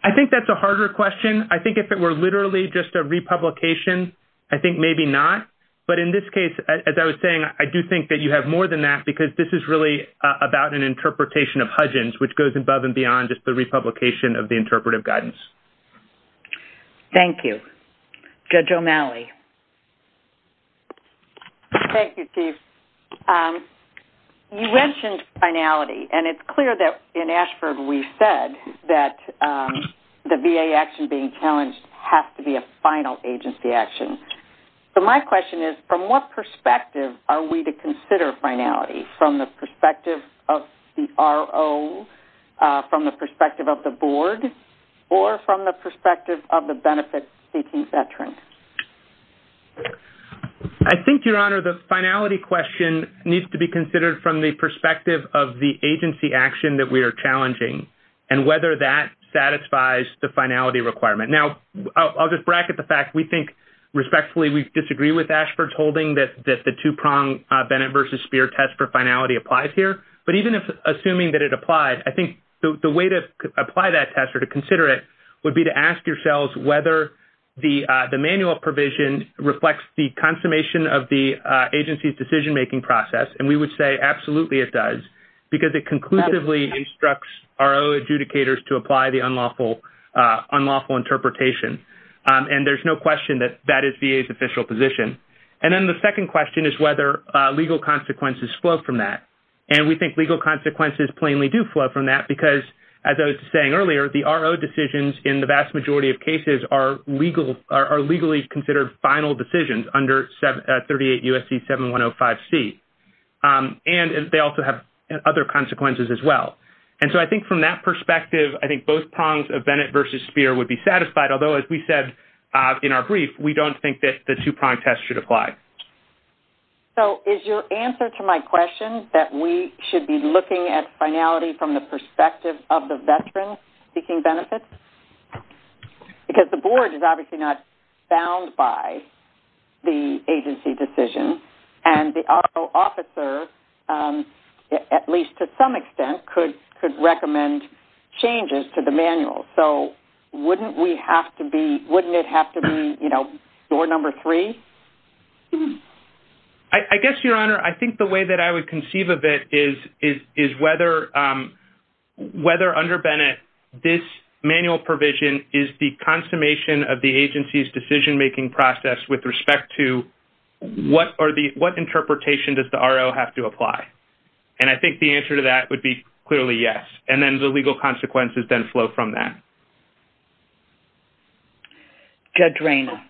I think that's a harder question. I think if it were literally just a republication, I think maybe not. But in this case, as I was saying, I do think that you have more than that because this is really about an interpretation of Hudgins, which goes above and beyond just the republication of the interpretive guidance. Thank you. Judge O'Malley. Thank you, Steve. You mentioned finality, and it's clear that in Ashford we said that the VA action being challenged has to be a final agency action. So, my question is, from what perspective are we to consider finality from the perspective of the RO, from the perspective of the board, or from the perspective of the benefit-seeking veteran? I think, Your Honor, the finality question needs to be considered from the perspective of the agency action that we are challenging and whether that satisfies the finality requirement. Now, I'll just bracket the fact we think respectfully we disagree with Ashford's holding that the two-prong Bennett v. Speer test for finality applies here. But even assuming that it applies, I think the way to apply that test or to consider it would be to ask yourselves whether the manual provision reflects the consummation of the agency's decision-making process. And we say absolutely it does because it conclusively instructs RO adjudicators to apply the unlawful interpretation. And there's no question that that is VA's official position. And then the second question is whether legal consequences flow from that. And we think legal consequences plainly do flow from that because, as I was saying earlier, the RO decisions in the vast majority of cases are legally considered final decisions under 38 U.S.C. 7105C. And they also have other consequences as well. And so, I think from that perspective, I think both prongs of Bennett v. Speer would be satisfied. Although, as we said in our brief, we don't think that the two-prong test should apply. So, is your answer to my question that we should be looking at finality from the perspective of the veteran seeking benefits? Because the board is obviously not bound by the agency decision. And the RO officer, at least to some extent, could recommend changes to the manual. So, wouldn't we have to be-wouldn't it have to be, you know, door number three? I guess, Your Honor, I think the way that I would conceive of it is whether under Bennett this manual provision is the consummation of the agency's decision-making process with respect to what are the-what interpretation does the RO have to apply? And I think the answer to that would be clearly yes. And then the legal consequences then flow from that. Judge Rayna.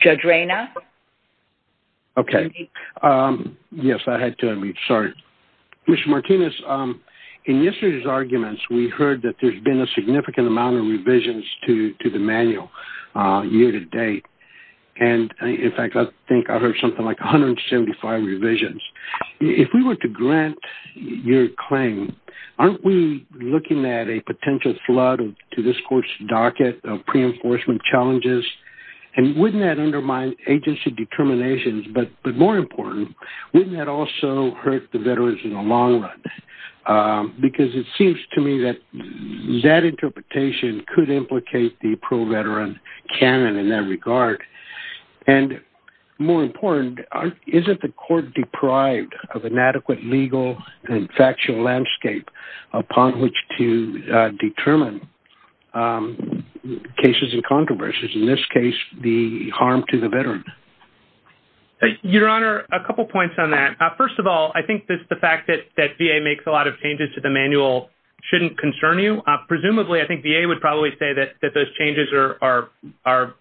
Judge Rayna? Okay. Yes, I had to unmute. Sorry. Mr. Martinez, in yesterday's arguments, we heard that there's been a significant amount of revisions to the manual year-to-date. And, in fact, I think I heard something like 175 revisions. If we were to grant your claim, aren't we looking at a potential flood to this court's docket of pre-enforcement challenges? And wouldn't that undermine agency determinations? But more important, wouldn't that also hurt the veterans in the long run? Because it seems to me that that interpretation could implicate the pro-veteran canon in that regard. And more important, isn't the court deprived of an adequate legal and factual landscape upon which to determine cases and controversies, in this case, the harm to the veteran? Your Honor, a couple points on that. First of all, I think that the fact that VA makes a lot of changes to the manual shouldn't concern you. Presumably, I think VA would probably say that those changes are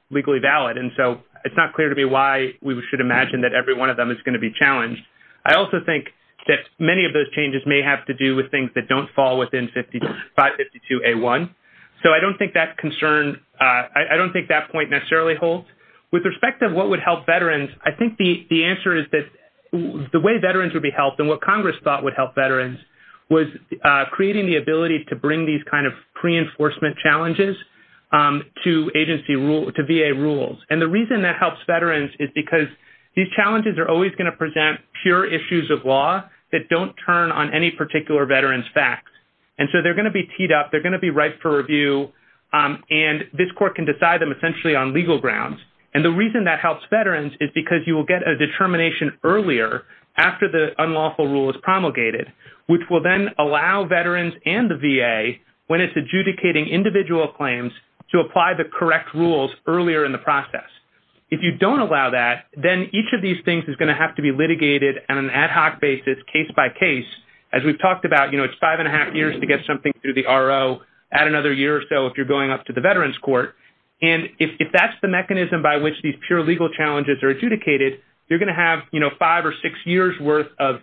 legally valid. And so it's not clear to me why we should imagine that every one of them is going to be challenged. I also think that many of those changes may have to do with things that don't fall within 552A1. So I don't think that point necessarily holds. With respect to what would help veterans, I think the answer is that the way veterans would be helped and what Congress thought would help veterans was creating the ability to bring these kind of pre-enforcement challenges to VA rules. And the reason that helps veterans is because these challenges are always going to present pure issues of law that don't turn on any particular veteran's facts. And so they're going to be teed up. They're going to be right for review. And this court can decide them essentially on legal grounds. And the reason that helps veterans is because you will get a determination earlier after the unlawful rule is promulgated, which will then allow veterans and the VA, when it's adjudicating individual claims, to apply the correct rules earlier in the process. If you don't allow that, then each of these things is going to have to be litigated on an ad hoc basis case by case we've talked about. You know, it's five and a half years to get something through the RO at another year or so if you're going up to the veterans court. And if that's the mechanism by which these pure legal challenges are adjudicated, you're going to have, you know, five or six years worth of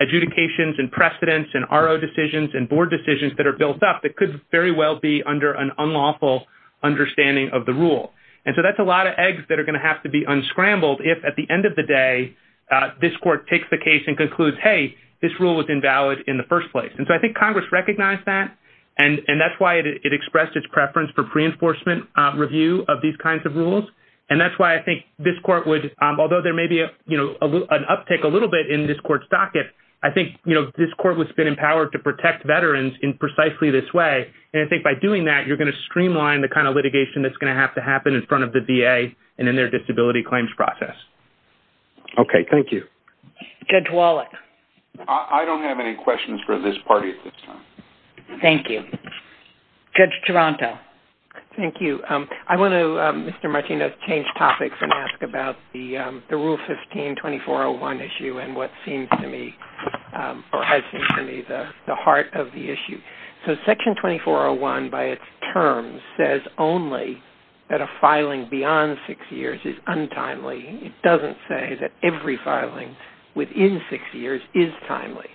adjudications and precedents and RO decisions and board decisions that are built up that could very well be under an unlawful understanding of the rule. And so that's a lot of eggs that are going to have to be unscrambled if at the end of the day, this court takes the case and concludes, hey, this rule was invalid in the first place. And so I think Congress recognized that. And that's why it expressed its preference for pre-enforcement review of these kinds of rules. And that's why I think this court would, although there may be, you know, an uptick a little bit in this court's docket, I think, you know, this court has been empowered to protect veterans in precisely this way. And I think by doing that, you're going to streamline the kind of litigation that's going to have to happen in front of the VA and in their disability claims process. Okay. Thank you. Judge Wallach. I don't have any questions for this party at this time. Thank you. Judge Toronto. Thank you. I want to, Mr. Martinez, change topics and ask about the Rule 15-2401 issue and what seems to me, or has seemed to me, the heart of the issue. So Section 2401, by its terms, says only that a filing beyond six years is untimely. It doesn't say that every filing within six years is timely.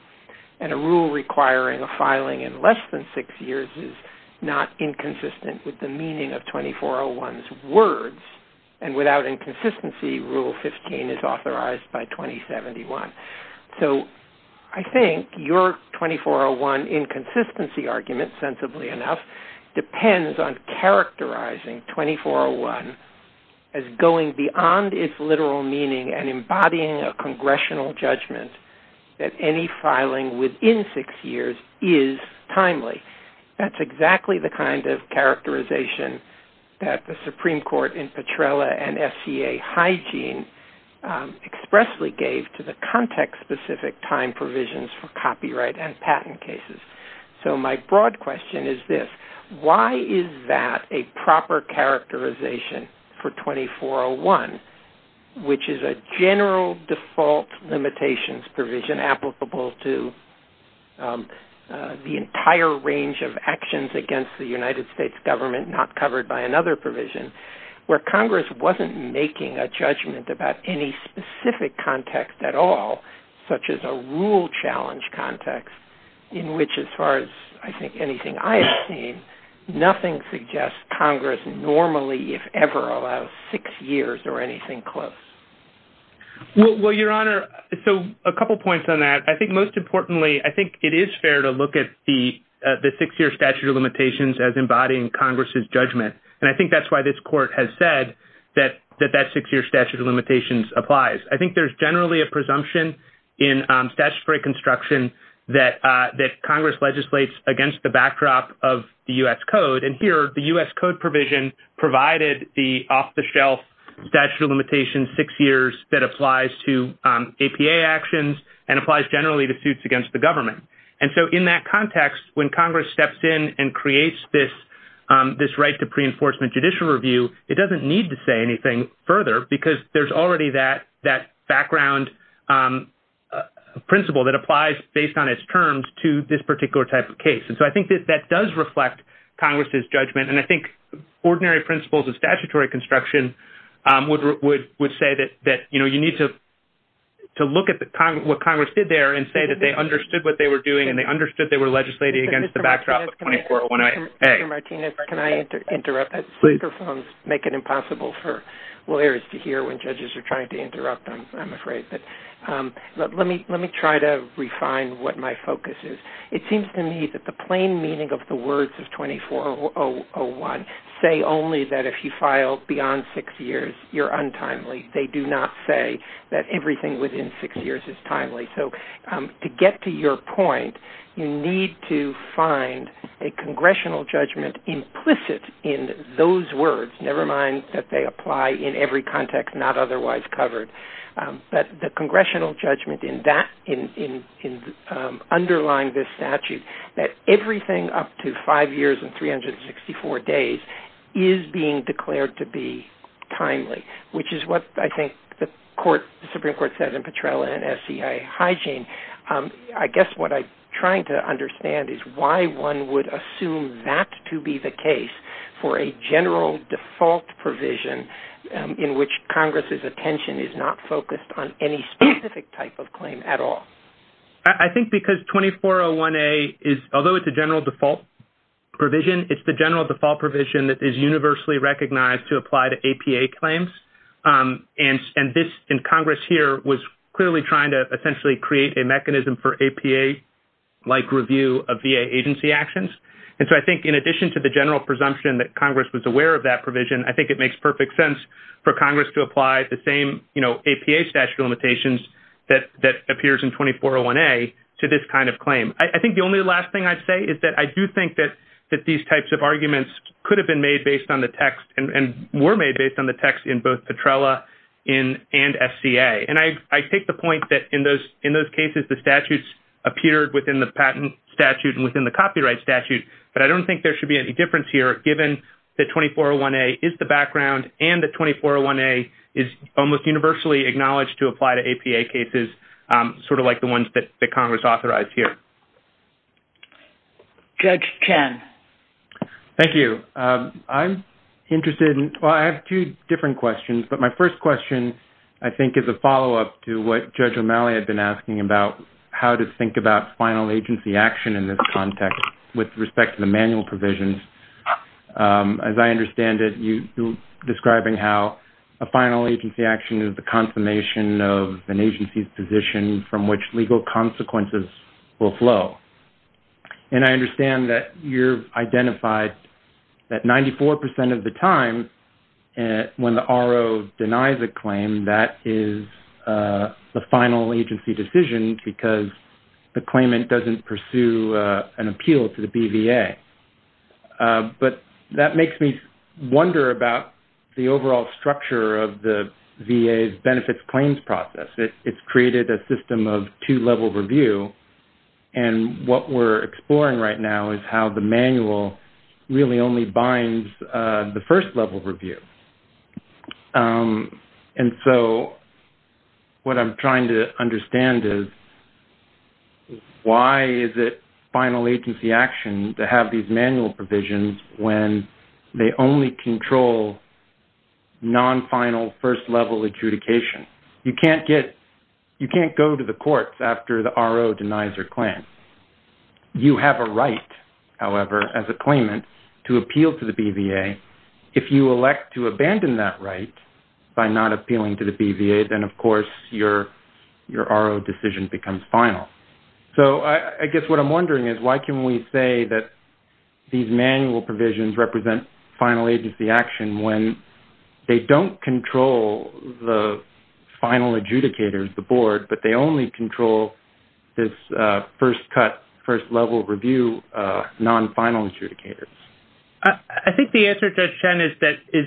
And a rule requiring a filing in less than six years is not inconsistent with the meaning of 2401's words. And without inconsistency, Rule 15 is authorized by 2071. So I think your 2401 inconsistency argument, sensibly enough, depends on characterizing 2401 as going beyond its literal meaning and embodying a congressional judgment that any filing within six years is timely. That's exactly the kind of characterization that the Supreme Court in Petrella and FCA Hygiene expressly gave to the context-specific time provisions for copyright and patent cases. So my broad question is this. Why is that a proper characterization for 2401, which is a general default limitations provision applicable to the entire range of actions against the United States government not covered by another provision, where Congress wasn't making a judgment about any specific context at all, such as a rule challenge context, in which, as far as I think anything I've seen, nothing suggests Congress normally, if ever, allows six years or anything close? Well, Your Honor, a couple points on that. I think most importantly, I think it is fair to look at the six-year statute of limitations as embodying Congress's judgment. And I think that's why this court has said that that six-year statute of limitations applies. I think there's generally a presumption in statutory construction that Congress legislates against the backdrop of U.S. code. And here, the U.S. code provision provided the off-the-shelf statute of limitations six years that applies to APA actions and applies generally to suits against the government. And so in that context, when Congress steps in and creates this right to pre-enforcement judicial review, it doesn't need to say anything further because there's already that background principle that applies based on its terms to this particular type of case. And so I think that does reflect Congress's judgment. And I think ordinary principles of statutory construction would say that, you know, you need to look at what Congress did there and say that they understood what they were doing and they understood they were legislating against the backdrop of 24-01-A. Mr. Martinez, can I interrupt? Superphones make it impossible for lawyers to hear when judges are trying to interrupt them, I'm afraid. But let me try to the words of 24-01. Say only that if you file beyond six years, you're untimely. They do not say that everything within six years is timely. So to get to your point, you need to find a congressional judgment implicit in those words, never mind that they apply in every context, not otherwise covered. But the congressional judgment in that, in underlying this statute, that everything up to five years and 364 days is being declared to be timely, which is what I think the Supreme Court said in Petrella and SCIA hygiene. I guess what I'm trying to understand is why one would assume that to be the case for a general default provision in which Congress's attention is not focused on any specific type of claim at all. I think because 24-01-A, although it's a general default provision, it's the general default provision that is universally recognized to apply to APA claims. And Congress here was clearly trying to essentially create a mechanism for APA-like review of VA agency actions. And so I think in addition to the general presumption that Congress was aware of that provision, I think it makes perfect sense for Congress to apply the same, you know, APA statute limitations that appears in 24-01-A to this kind of claim. I think the only last thing I'd say is that I do think that these types of arguments could have been made based on the text and were made based on the text in both Petrella and SCIA. And I take the point that in those cases, the statutes appeared within the patent statute and within the copyright statute, but I don't think there should be any difference here given that 24-01-A is the background and that 24-01-A is almost universally acknowledged to apply to APA cases, sort of like the ones that Congress authorized here. Judge Ken. Thank you. I'm interested in, well, I have two different questions, but my first question, I think, is a follow-up to what Judge O'Malley had been asking about how to think about final agency action in this context with respect to the manual provisions. As I understand it, you're describing how a final agency action is the confirmation of an agency's position from which legal consequences will flow. And I understand that you've identified that 94% of the time when the RO denies a claim, that is the final agency decision because the claimant doesn't pursue an appeal to the BVA. But that makes me wonder about the overall structure of the VA's benefits claims process. It's created a system of two-level review. And what we're exploring right now is how the manual really only binds the first-level review. And so what I'm trying to understand is why is it final agency action to have these manual provisions when they only control non-final first-level adjudication? You can't go to the courts after the RO denies your claim. You have a right, however, as a claimant to appeal to the BVA. If you elect to abandon that right by not appealing to the BVA, then of course your RO decision becomes final. So I guess what I'm wondering is why can we say that these manual provisions represent final agency action when they don't control the final adjudicators, the board, but they only control this first-cut, first-level review non-final adjudicators? I think the answer to that, Shen, is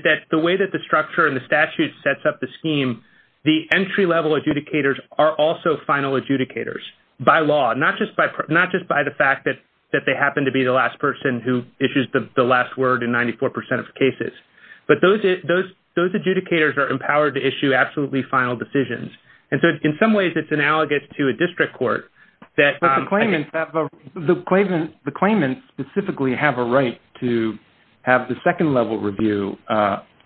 that the way that the structure and the statute sets up the scheme, the entry-level adjudicators are also final adjudicators by law, not just by the fact that they happen to be the last person who issues the last word in 94% of cases. But those adjudicators are empowered to issue absolutely final decisions. And so in some ways it's analogous to a district court that... The claimants specifically have a right to have the second-level review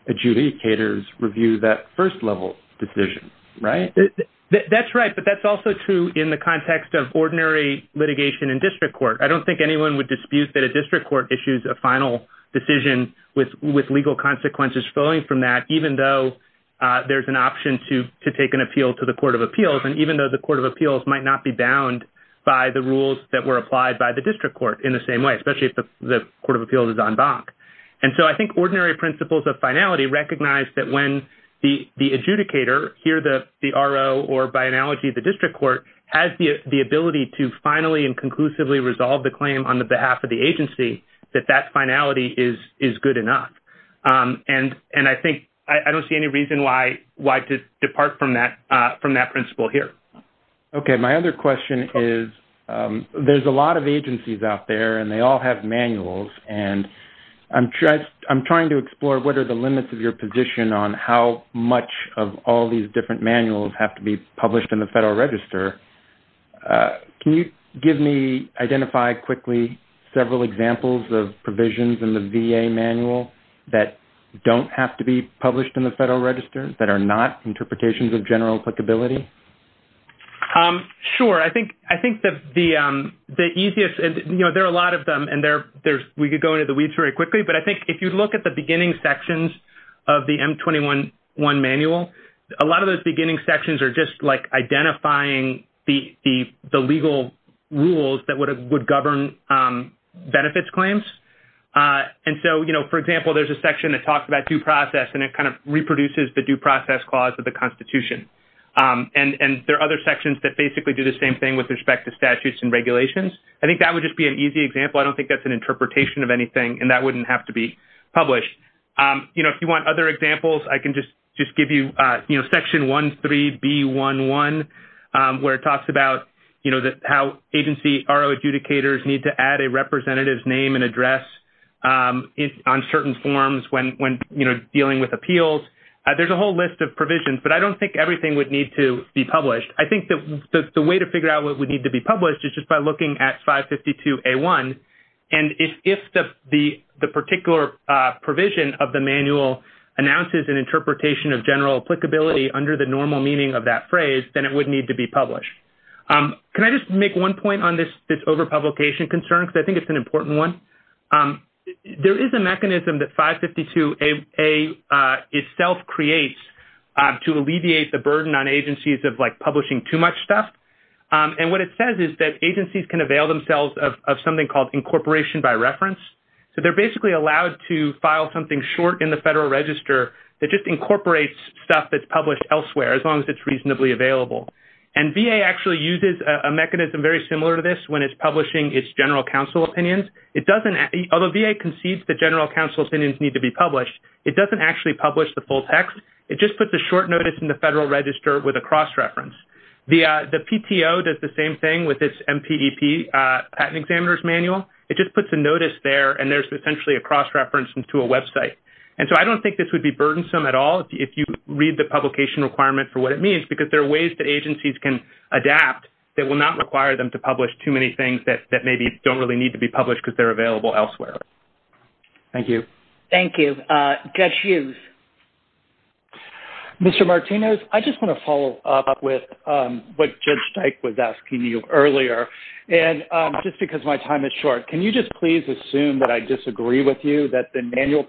adjudicators review that first-level decision, right? That's right, but that's also true in the context of ordinary litigation in district court. I don't think anyone would dispute that a district court issues a final decision with legal consequences flowing from that, even though there's an option to take an appeal to the Court of Appeals. And the Court of Appeals might not be bound by the rules that were applied by the district court in the same way, especially if the Court of Appeals is en banc. And so I think ordinary principles of finality recognize that when the adjudicator, here the RO or by analogy the district court, has the ability to finally and conclusively resolve the claim on behalf of the agency, that that finality is good enough. And I think I don't see any reason why to depart from that principle here. Okay, my other question is, there's a lot of agencies out there and they all have manuals. And I'm trying to explore what are the limits of your position on how much of all these different manuals have to be published in the Federal Register. Can you give me, identify quickly several examples of provisions in the VA manual that don't have to be published in the Federal Register that are not interpretations of general applicability? Sure. I think the easiest, you know, there are a lot of them. And there's, we could go into the weeds very quickly. But I think if you look at the beginning sections of the M21-1 manual, a lot of those beginning sections are just like identifying the legal rules that would govern benefits claims. And so, you know, for example, there's a section that talks about due process and it kind of reproduces the due process clause of the Constitution. And there are other sections that basically do the same thing with respect to statutes and regulations. I think that would just be an easy example. I don't think that's an interpretation of anything. And that wouldn't have to be published. You know, if you want other examples, I can just give you, you know, Section 13B11, where it talks about, you know, how agency adjudicators need to add a representative's name and address on certain forms when, you know, dealing with appeals. There's a whole list of provisions, but I don't think everything would need to be published. I think that the way to figure out what would need to be published is just by looking at 552A1. And if the particular provision of the manual announces an interpretation of general applicability under the normal meaning of that phrase, then it would need to be published. Can I just make one point on this overpublication concern? Because I think it's an important one. There is a mechanism that 552A itself creates to alleviate the burden on agencies of, like, publishing too much stuff. And what it says is that agencies can avail themselves of something called incorporation by reference. So they're basically allowed to file something short in the Federal Register that just incorporates stuff that's published elsewhere as long as reasonably available. And VA actually uses a mechanism very similar to this when it's publishing its general counsel opinions. It doesn't, although VA concedes that general counsel opinions need to be published, it doesn't actually publish the full text. It just puts a short notice in the Federal Register with a cross-reference. The PTO does the same thing with its MPEP examiner's manual. It just puts a notice there, and there's essentially a cross-reference to a Web site. And so I don't think this would be burdensome at all if you read the publication requirement for what it means, because there are ways that agencies can adapt that will not require them to publish too many things that maybe don't really need to be published because they're available elsewhere. Thank you. Thank you. Gesh Hughes. Mr. Martinez, I just want to follow up with what Judge Dyke was asking you earlier. And just because my time is short, can you just please assume that I disagree with you that the Federal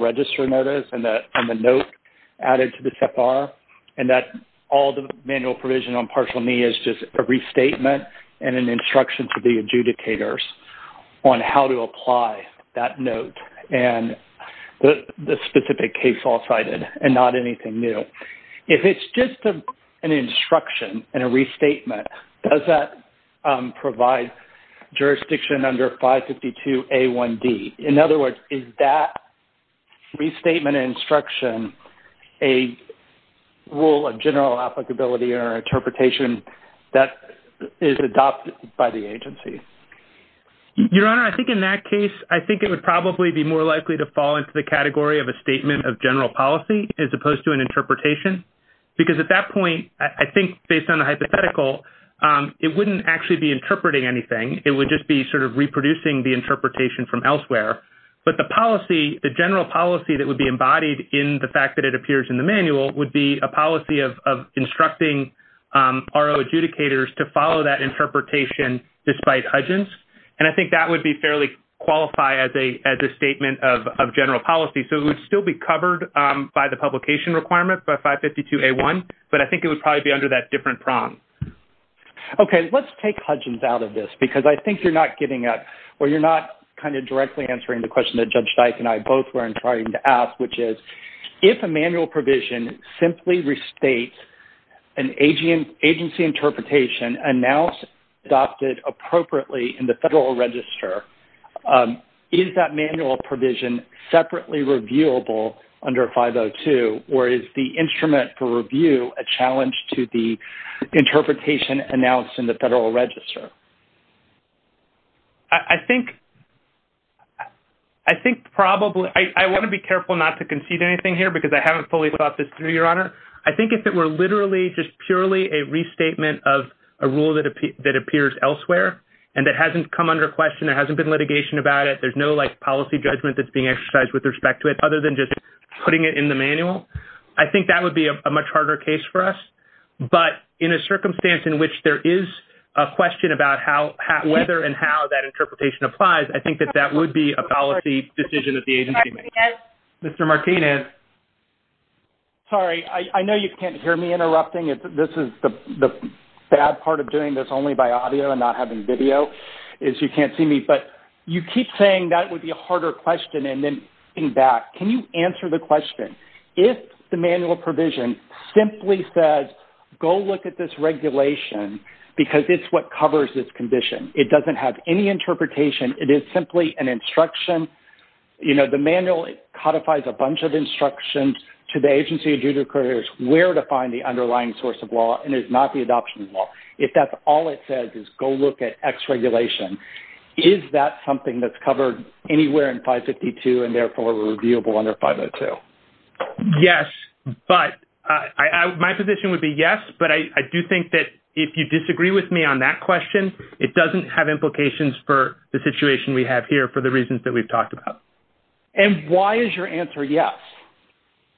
Register notice and the note added to the TFR, and that all the manual provision on Partial Me is just a restatement and an instruction to the adjudicators on how to apply that note and the specific case all cited and not anything new. If it's just an instruction and a restatement, does that provide jurisdiction under 552A1D? In other words, is that restatement and instruction a rule of general applicability or interpretation that is adopted by the agency? Your Honor, I think in that case, I think it would probably be more likely to fall into the category of a statement of general policy as opposed to an interpretation, because at that it wouldn't actually be interpreting anything. It would just be sort of reproducing the interpretation from elsewhere. But the policy, the general policy that would be embodied in the fact that it appears in the manual would be a policy of instructing RO adjudicators to follow that interpretation despite udgence. And I think that would be fairly qualified as a statement of general policy. So it would still be covered by the publication requirement for 552A1, but I think it would probably be under that different prong. Okay. Let's take hodges out of this, because I think you're not giving up or you're not kind of directly answering the question that Judge Dyke and I both were trying to ask, which is if a manual provision simply restates an agency interpretation and now adopted appropriately in the federal register, is that manual provision separately reviewable under 502, or is the instrument for review a challenge to the interpretation announced in the federal register? I think probably. I want to be careful not to concede anything here, because I haven't fully thought this through, Your Honor. I think if it were literally just purely a restatement of a rule that appears elsewhere and that hasn't come under question, there hasn't been litigation about it, there's no, like, policy judgment that's being exercised with respect to it, other than just putting it in the manual. I think that would be a much harder case for us. But in a circumstance in which there is a question about whether and how that interpretation applies, I think that that would be a policy decision that the agency would make. Mr. Martinez? Sorry. I know you can't hear me interrupting. This is the bad part of doing this only by audio and not having video, is you can't see me. But you keep saying that would be a harder question, and then getting back, can you answer the question? If the manual provision simply says, go look at this regulation, because it's what covers this condition. It doesn't have any interpretation. It is simply an instruction. You know, the manual codifies a bunch of instructions to the agency adjudicators where to find the underlying source of law, and it's not the adoption of law. If that's all it says is, go look at X regulation, is that something that's in 552 and therefore reviewable under 502? Yes. But my position would be yes. But I do think that if you disagree with me on that question, it doesn't have implications for the situation we have here for the reasons that we've talked about. And why is your answer yes?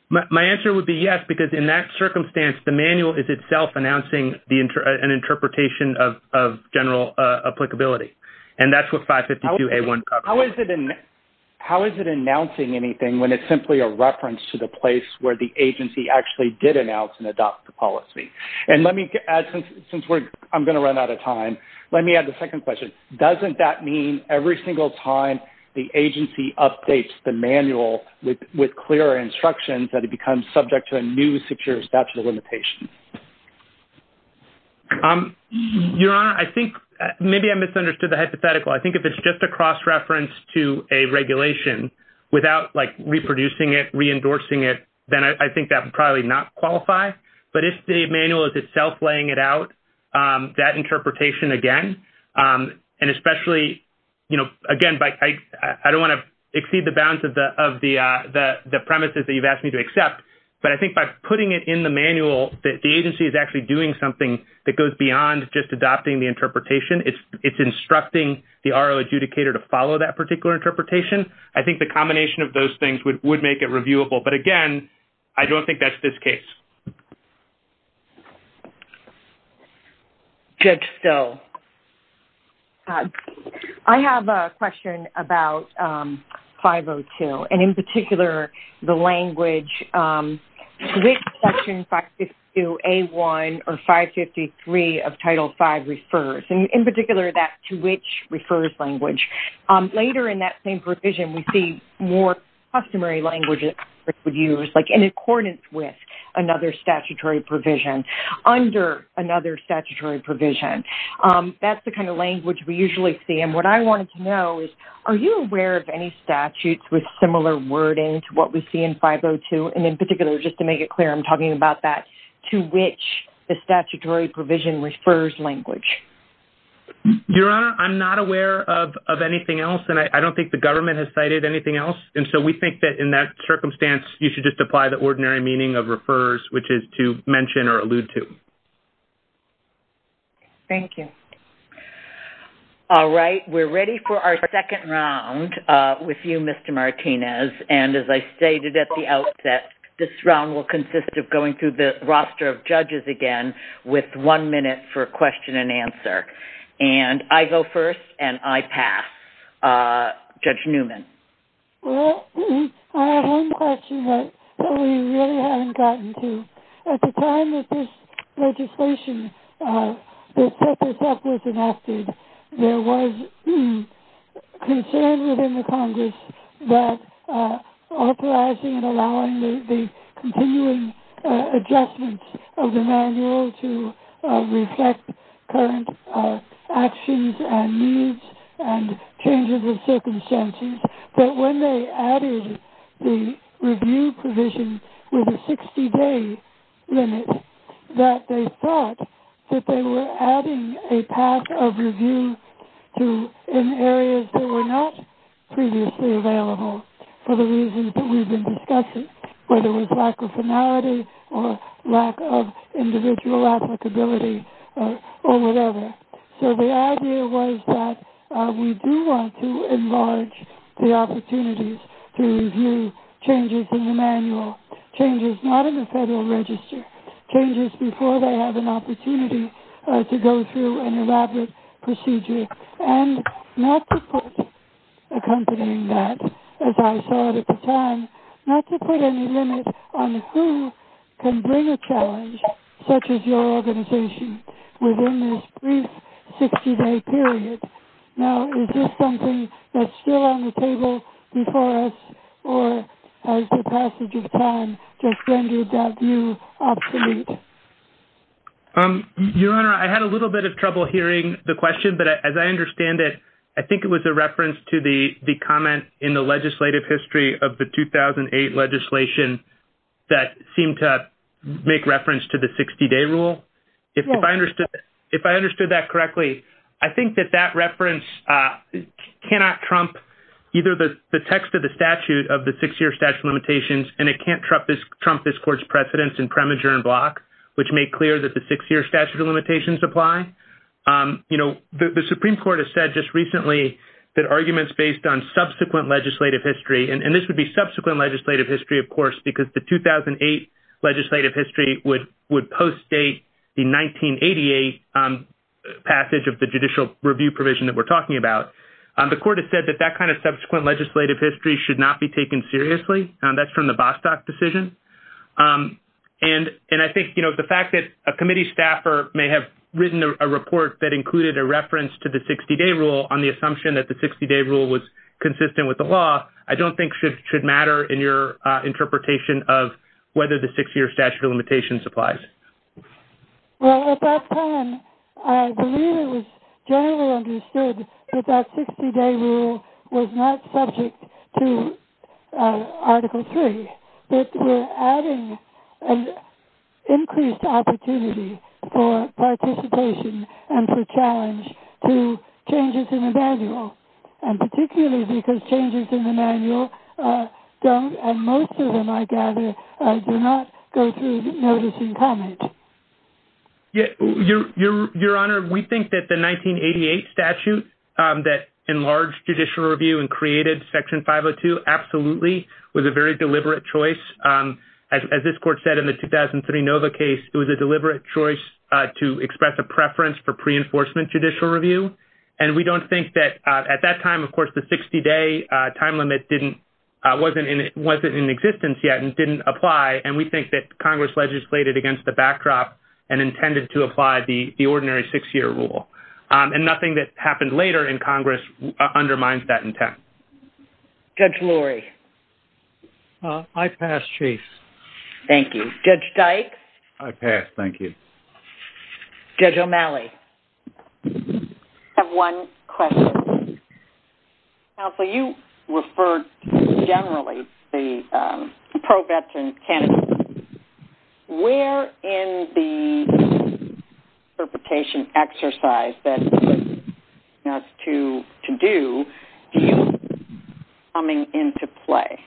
My answer would be yes, because in that circumstance, the manual is itself announcing an interpretation of general applicability. And that's what 552A1 covers. How is it announcing anything when it's simply a reference to the place where the agency actually did announce and adopt the policy? And let me add, since I'm going to run out of time, let me add the second question. Doesn't that mean every single time the agency updates the manual with clear instructions that it becomes subject to a new secure statute of limitations? Your Honor, I think maybe I misunderstood the hypothetical. I think if it's just a cross reference to a regulation without, like, reproducing it, re-endorsing it, then I think that would probably not qualify. But if the manual is itself laying it out, that interpretation, again, and especially, you know, again, I don't want to exceed the bounds of the premises that you've asked me to accept, but I think by putting it in the manual that the agency is actually doing something that goes beyond just adopting the interpretation, it's instructing the RO adjudicator to follow that particular interpretation, I think the combination of those things would make it reviewable. But again, I don't think that's this case. Good. So, I have a question about 502, and in particular, the language, which section 552A1 or 553 of Title V refers, and in particular, that to which refers language. Later in that same provision, we see more customary languages that would use, like, in accordance with another statutory provision under another statutory provision. That's the kind of language we usually see. And what I wanted to know is, are you aware of any statutes with similar wording to what we see in 502, and in particular, just to make it clear, I'm talking about that, to which the statutory provision refers language? Your Honor, I'm not aware of anything else, and I don't think the government has cited anything else. And so, we think that in that circumstance, you should just apply the ordinary meaning of refers, which is to mention or allude to. Thank you. All right. We're ready for our second round with you, Mr. Martinez. And as I stated at the outset, this round will consist of going through the roster of judges again with one minute for question and answer. And I go first, and I pass. Judge Newman. I have a question that we really haven't gotten to. At the time that this legislation was enacted, there was concern within the Congress that authorizing and allowing the continuing adjustments of the manual to reflect current actions and needs and changes of circumstances, but when they added the review provision with a 60-day limit, that they thought that they were adding a path of review to areas that were not previously available for the reasons that we've been discussing, whether it was lack of finality or lack of individual applicability or whatever. So, the idea was that we do want to enlarge the opportunities to review changes in the manual, changes not in the federal register, changes before they have an opportunity to go through an elaborate procedure, and not to put accompanying that, as I said at the time, not to put any limit on who can bring a challenge such as your organization within this brief 60-day period. Now, is this something that's still on the table before us, or has the passage of time just rendered that view obsolete? Your Honor, I had a little bit of trouble hearing the question, but as I understand it, I think it was a reference to the comment in the legislative history of the 2008 legislation that seemed to make reference to the 60-day rule. If I understood that correctly, I think that that reference cannot trump either the text of the statute of the six-year statute of limitations, and it can't trump this Court's precedents in premature and block, which make clear that the six-year statute of limitations apply. You know, the Supreme Court has said just recently that arguments based on subsequent legislative history, and this would be subsequent legislative history, of course, because the 2008 legislative history would post-date the 1988 passage of the judicial review provision that we're talking about. The Court has said that that kind of subsequent legislative history should not be taken seriously, and that's from the Bostock decision. And I think, you know, the fact that a committee staffer may have written a report that included a reference to the 60-day rule on the assumption that the 60-day rule was consistent with the law, I don't think should matter in your interpretation of whether the six-year statute of limitations applies. Well, at that time, I believe it was generally understood that that 60-day rule was not subject to Article III. It was adding an increased opportunity for participation and for challenge to changes in the manual, and particularly because changes in the manual don't, and most of them, I gather, do not go through notice and comment. Your Honor, we think that the 1988 statute that enlarged judicial review and created Section 502 absolutely was a very deliberate choice. As this Court said in the 2003 Nova case, it was a deliberate choice to express a preference for pre-enforcement judicial review, and we don't think that at that time, of course, the 60-day time limit wasn't in existence yet and didn't apply, and we think that Congress legislated against the backdrop and intended to apply the ordinary six-year rule. And nothing that happened later in Congress undermines that intent. Judge Lurie? I pass, Chase. Thank you. Judge Dyke? I pass, thank you. Judge O'Malley? I have one question. Counsel, you referred generally to the pro-veteran canon. Where in the interpretation exercise that you want us to do, do you see it coming into play?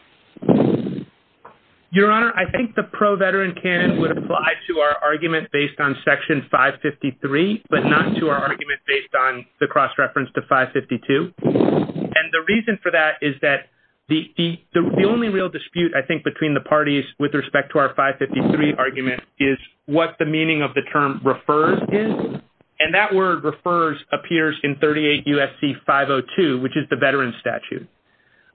Your Honor, I think the pro-veteran canon would apply to our argument based on Section 553, but not to our argument based on the cross-reference to 552. And the reason for that is that the only real dispute, I think, between the parties with respect to our 553 argument is what the meaning of the term refers is, and that word refers appears in 38 U.S.C. 502, which is the veteran statute.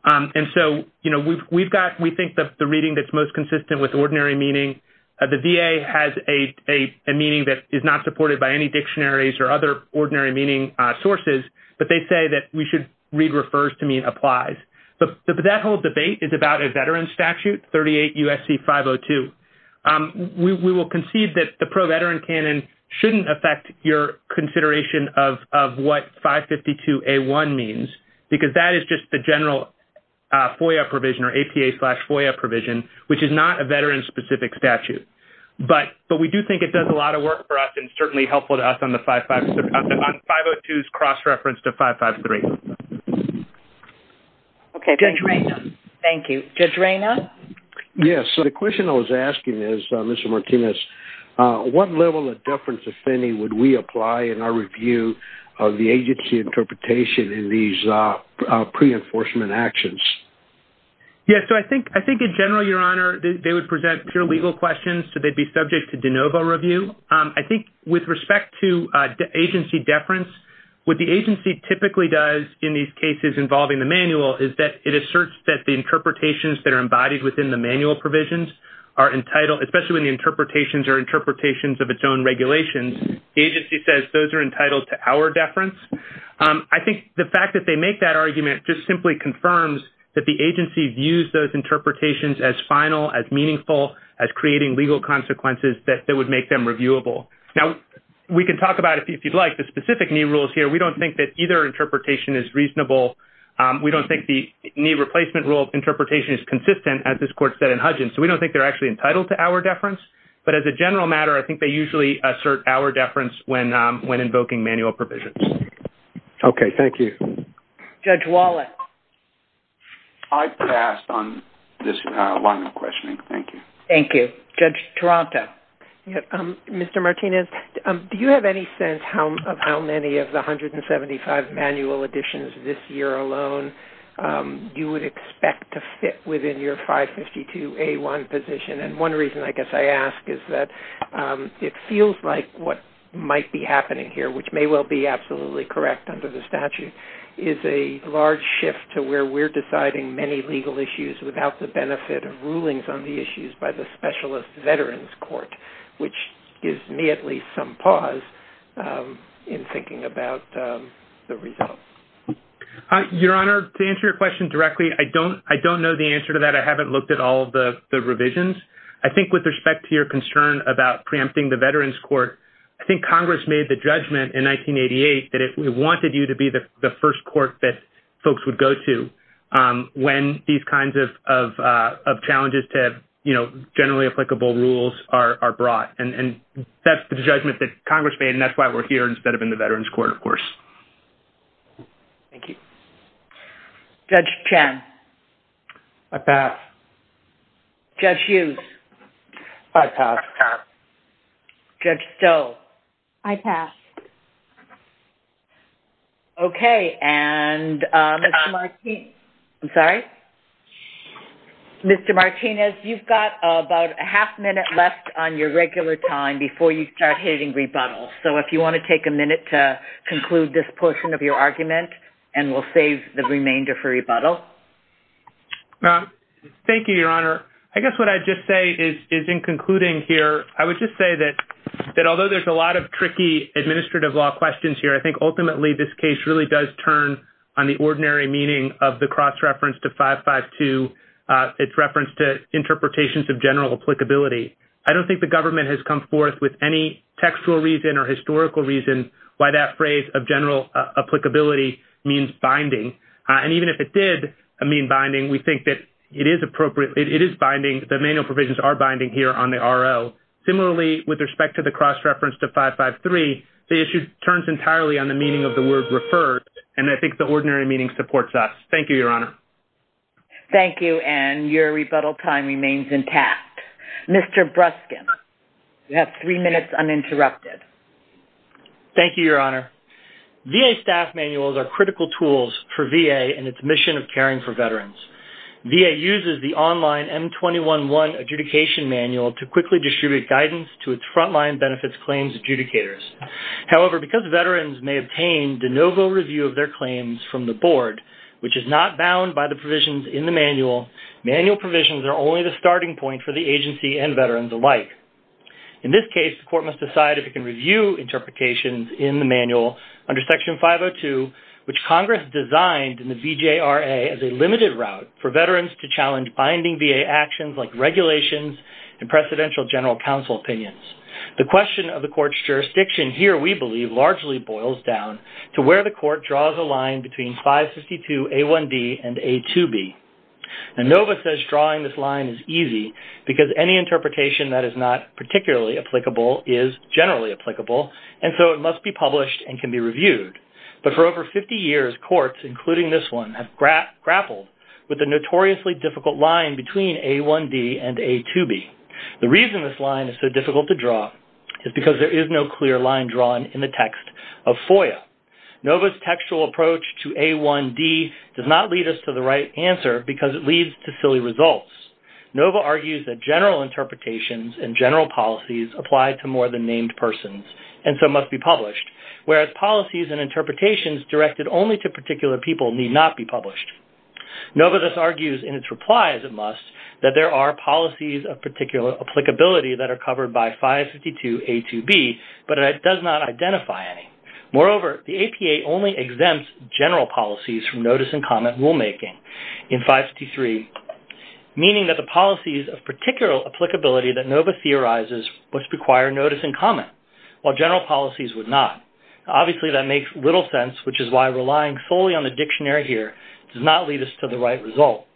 And so, you know, we've got, we think that the reading that's most consistent with ordinary meaning, the VA has a meaning that is not supported by any dictionaries or other ordinary meaning sources, but they say that we should read refers to mean applies. But that whole debate is about a veteran statute, 38 U.S.C. 502. We will concede that the pro-veteran shouldn't affect your consideration of what 552A1 means, because that is just the general FOIA provision or APA slash FOIA provision, which is not a veteran-specific statute. But we do think it does a lot of work for us and certainly helpful to us on the 502's cross-reference to 553. Okay, Judge Rayna. Thank you. Judge Rayna? Yes. So, the question I was asking is, Mr. Martinez, what level of deference offending would we apply in our review of the agency interpretation in these pre-enforcement actions? Yes. So, I think in general, Your Honor, they would present pure legal questions, so they'd be subject to de novo review. I think with respect to agency deference, what the agency typically does in these cases involving the manual is that it asserts that the interpretations that are embodied within the manual provisions are entitled, especially when the interpretations are interpretations of its own regulations, the agency says those are entitled to our deference. I think the fact that they make that argument just simply confirms that the agency views those interpretations as final, as meaningful, as creating legal consequences that would make them reviewable. Now, we can talk about, if you'd like, the specific new rules here. We don't think that either interpretation is reasonable. We don't think the new replacement rule interpretation is consistent, as this Court said in Hudgins. So, we don't think they're actually entitled to our deference, but as a general matter, I think they usually assert our deference when invoking manual provisions. Okay. Thank you. Judge Wallace. I pass on this line of questioning. Thank you. Thank you. Judge Toronto. Mr. Martinez, do you have any sense of how many of the 175 manual additions this year alone you would expect to fit within your 552A1 position? And one reason I guess I ask is that it feels like what might be happening here, which may well be absolutely correct under the statute, is a large shift to where we're deciding many legal issues without the benefit of rulings on the issues by the Specialist Veterans Court, which gives me at least some pause in thinking about the results. Your Honor, to answer your question directly, I don't know the answer to that. I haven't looked at all of the revisions. I think with respect to your concern about preempting the Veterans Court, I think Congress made the judgment in 1988 that it wanted you to be the first court that folks would go to when these kinds of challenges to, you know, generally applicable rules are brought. And that's the judgment that Congress made, and that's why we're here instead of in the Veterans Court, of course. Thank you. Judge Chen. I pass. Judge Hughes. I pass. Judge Stowe. I pass. Okay. And Mr. Martinez, you've got about a half minute left on your regular time before you start hitting rebuttal. So if you want to take a minute to conclude this portion of your argument, and we'll save the remainder for rebuttal. Thank you, Your Honor. I guess what I'd just say is in concluding here, I would just say that although there's a lot of tricky administrative law questions here, I think ultimately this case really does turn on the ordinary meaning of the cross-reference to 552, its reference to 553. I don't think the government has come forth with any textual reason or historical reason why that phrase of general applicability means binding. And even if it did mean binding, we think that it is appropriate. It is binding. The manual provisions are binding here on the RL. Similarly, with respect to the cross-reference to 553, the issue turns entirely on the meaning of the word referred, and I think the ordinary meaning supports us. Thank you, Your Honor. Thank you, Ann. Your rebuttal time remains intact. Mr. Bruskin, you have three minutes uninterrupted. Thank you, Your Honor. VA staff manuals are critical tools for VA in its mission of caring for veterans. VA uses the online M21-1 adjudication manual to quickly distribute guidance to its frontline benefits claims adjudicators. However, because veterans may obtain de novo review of their claims from the board, which is not bound by the provisions in the manual, manual provisions are only the starting point for the agency and veterans alike. In this case, the court must decide if it can review interpretations in the manual under Section 502, which Congress designed in the BJRA as a limited route for veterans to challenge binding VA actions like regulations and presidential general counsel opinions. The question of the court's jurisdiction here, we believe, largely boils down to where the court draws a line between 552A1D and A2B. Nova says drawing this line is easy because any interpretation that is not particularly applicable is generally applicable, and so it must be published and can be reviewed. But for over 50 years, courts, including this one, have grappled with the notoriously difficult line between A1D and A2B. The reason this line is so is because there is no clear line drawn in the text of FOIA. Nova's textual approach to A1D does not lead us to the right answer because it leads to silly results. Nova argues that general interpretations and general policies apply to more than named persons and so must be published, whereas policies and interpretations directed only to particular people need not be published. Nova thus argues in its replies, it must, that there are policies of particular applicability that are covered by 552A2B, but it does not identify any. Moreover, the APA only exempts general policies from notice and comment rulemaking in 553, meaning that the policies of particular applicability that Nova theorizes must require notice and comment, while general policies would not. Obviously, that makes little sense, which is why relying solely on the dictionary here does not lead us to the right result.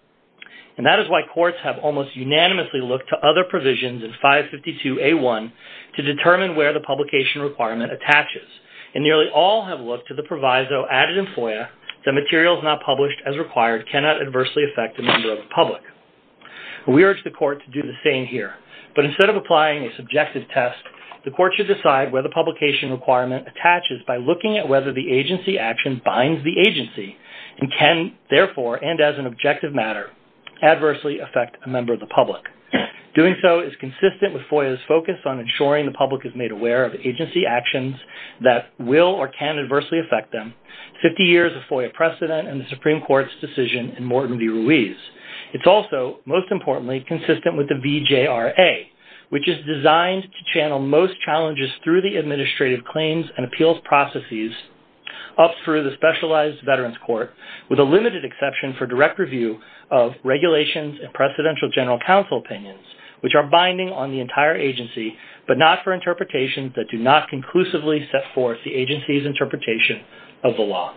And that is why courts have almost unanimously looked to other provisions in 552A1 to determine where the publication requirement attaches, and nearly all have looked to the proviso added in FOIA that materials not published as required cannot adversely affect a member of the public. We urge the court to do the same here, but instead of applying a subjective test, the court should decide where the publication requirement attaches by looking at whether the agency action binds the agency and can, therefore, and as an objective matter, adversely affect a member of the public. Doing so is consistent with FOIA's focus on ensuring the public is made aware of agency actions that will or can adversely affect them, 50 years of FOIA precedent, and the Supreme Court's decision in Morton v. Ruiz. It's also, most importantly, consistent with the VJRA, which is designed to channel most challenges through the administrative claims and appeals processes up through the Specialized Veterans Court, with a limited exception for direct review of regulations and Presidential General Counsel opinions, which are binding on the entire agency, but not for interpretations that do not conclusively set forth the agency's interpretation of the law.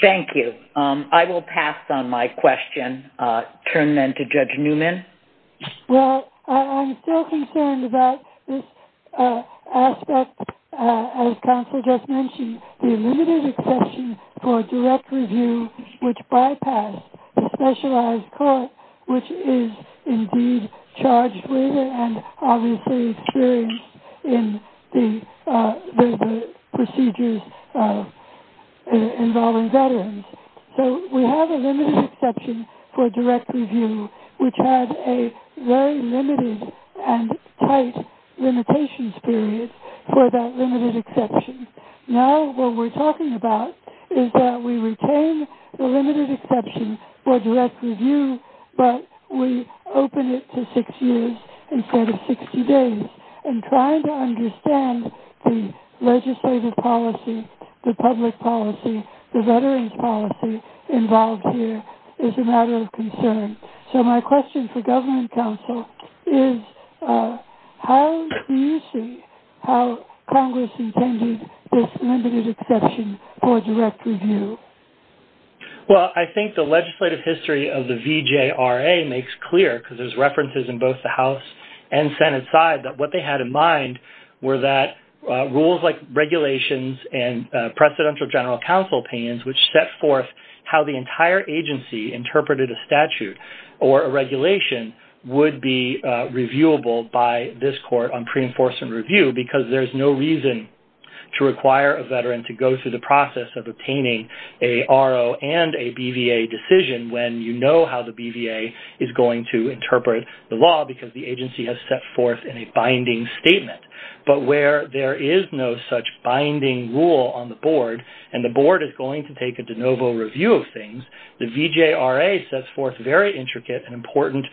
Thank you. I will pass on my question, turn then to Judge Newman. Well, I'm still concerned about this aspect, as Counsel just mentioned, the limited exception for direct review, which bypassed the Specialized Court, which is indeed charged with and obviously experienced in the procedures involving veterans. So, we have a limited exception for direct review, which has a very limited and tight limitations period for that limited exception. Now, what we're talking about is that we retain the limited exception for direct review, but we open it to six years instead of 60 days, and try to understand the legislative policy, the public policy, the veterans policy involved here is a matter of concern. So, my question for Governor and Counsel is, how do you see how Congress intended this limited exception for direct review? Well, I think the legislative history of the VJRA makes clear, because there's references in both the House and Senate side, that what they had in rules like regulations and Presidential General Counsel opinions, which set forth how the entire agency interpreted a statute or a regulation would be reviewable by this court on pre-enforcement review, because there's no reason to require a veteran to go through the process of obtaining a RO and a BVA decision when you know how the BVA is going to interpret the law, because the agency has set forth in a binding statement. But where there is no such binding rule on the board, and the board is going to take a de novo review of things, the VJRA sets forth very intricate and important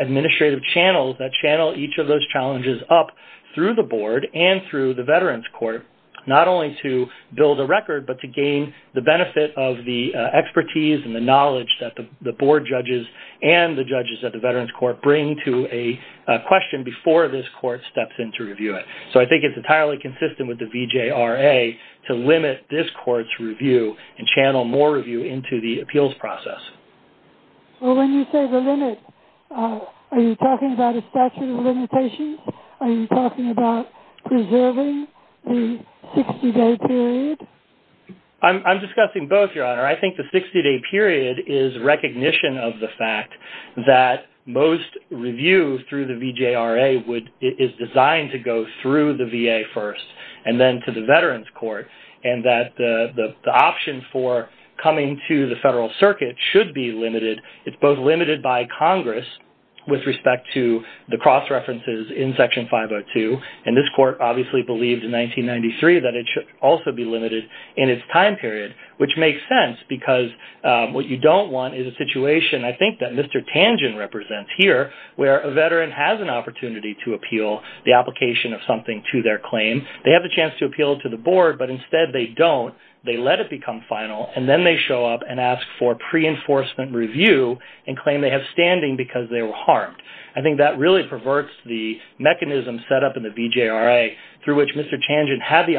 administrative channels that channel each of those challenges up through the board and through the veterans court, not only to build a record, but to gain the benefit of the expertise and the knowledge that the board judges and the judges at the veterans court bring to a question before this court steps in to review it. So I think it's entirely consistent with the VJRA to limit this court's review and channel more review into the appeals process. So when you say the limit, are you talking about a statute of limitations? Are you talking about preserving the 60-day period? I'm discussing both, Your Honor. I think the 60-day period is recognition of the fact that most reviews through the VJRA is designed to go through the VA first, and then to the veterans court, and that the option for coming to the federal circuit should be limited. It's both limited by Congress with respect to the cross-references in Section 502, and this court obviously believed in 1993 that it should also be limited in its time period, which makes sense because what you don't want is a situation, I think that Mr. Tangent represents here, where a veteran has an opportunity to appeal the application of something to their claim. They have the chance to appeal to the board, but instead they don't. They let it become final, and then they show up and ask for pre-enforcement review and claim they have standing because they were harmed. I think that really perverts the mechanism set up in the VJRA through which Mr. Tangent has the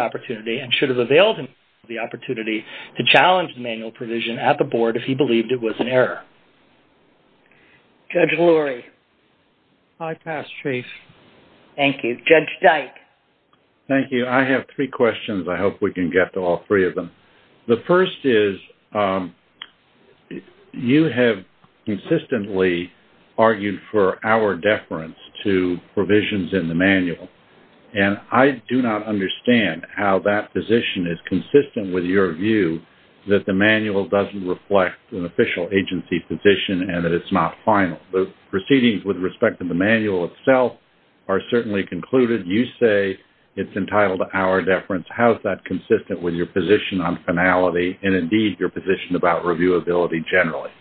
opportunity to challenge manual provision at the board if he believed it was an error. Judge Lurie? I pass, Chief. Thank you. Judge Dyke? Thank you. I have three questions. I hope we can get to all three of them. The first is, you have consistently argued for our deference to provisions in the manual, and I do not understand how that position is consistent with your view that the manual doesn't reflect an official agency position and that it's not final. The proceedings with respect to the manual itself are certainly concluded. You say it's entitled to our deference. How is that consistent with your position on finality and, indeed, your position about reviewability generally?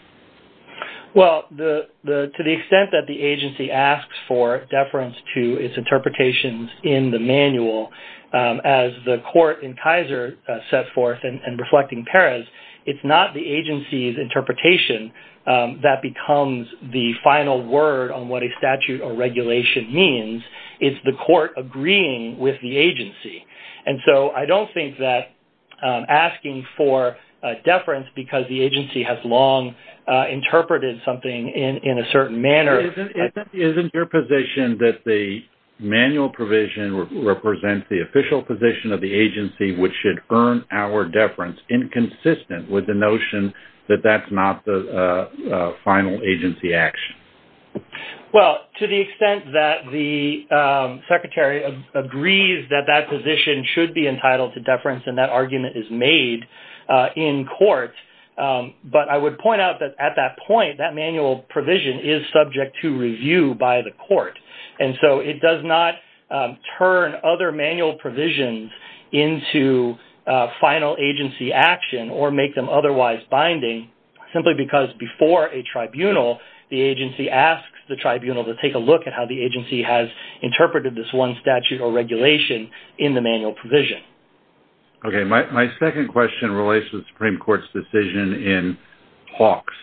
Well, to the extent that the agency asks for deference to its interpretations in the manual, as the court in Kaiser sets forth and reflecting Paris, it's not the agency's interpretation that becomes the final word on what a statute or regulation means. It's the court agreeing with the agency. I don't think that asking for deference because the agency has long interpreted something in a certain manner... Isn't your position that the manual provision represents the official position of the agency, which should earn our deference, inconsistent with the notion that that's not the final agency action? Well, to the extent that the Secretary agrees that that position should be entitled to deference, and that argument is made in court, but I would point out that at that point, that manual provision is subject to review by the court, and so it does not turn other manual provisions into final agency action or make them otherwise binding, simply because before a the tribunal to take a look at how the agency has interpreted this one statute or regulation in the manual provision. Okay. My second question relates to the Supreme Court's decision in Hawks,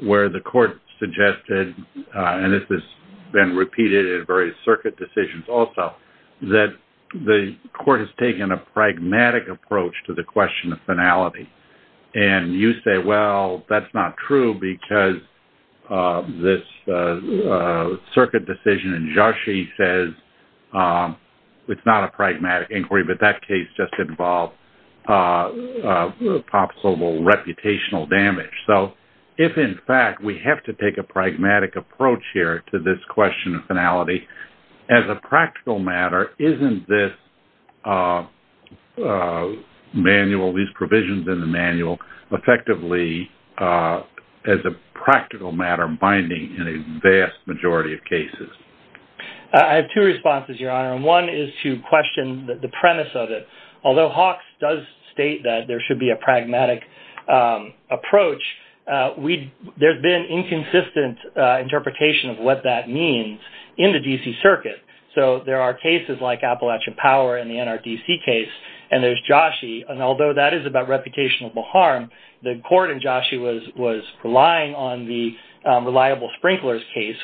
where the court suggested, and this has been repeated in various circuit decisions also, that the court has taken a pragmatic approach to the question of finality, and you say, well, that's not true because this circuit decision in Joshi says it's not a pragmatic inquiry, but that case just involved possible reputational damage. So if in fact we have to take a pragmatic approach here to this question of finality, as a practical matter, isn't this manual, these provisions in the manual, effectively as a practical matter binding in a vast majority of cases? I have two responses, Your Honor, and one is to question the premise of it. Although Hawks does state that there should be a pragmatic approach, there's been inconsistent interpretation of what that means in the D.C. Circuit. So there are cases like Appalachia Power in the NRDC case, and there's Joshi, and although that is about reputational harm, the court in Joshi was relying on the reliable sprinklers case,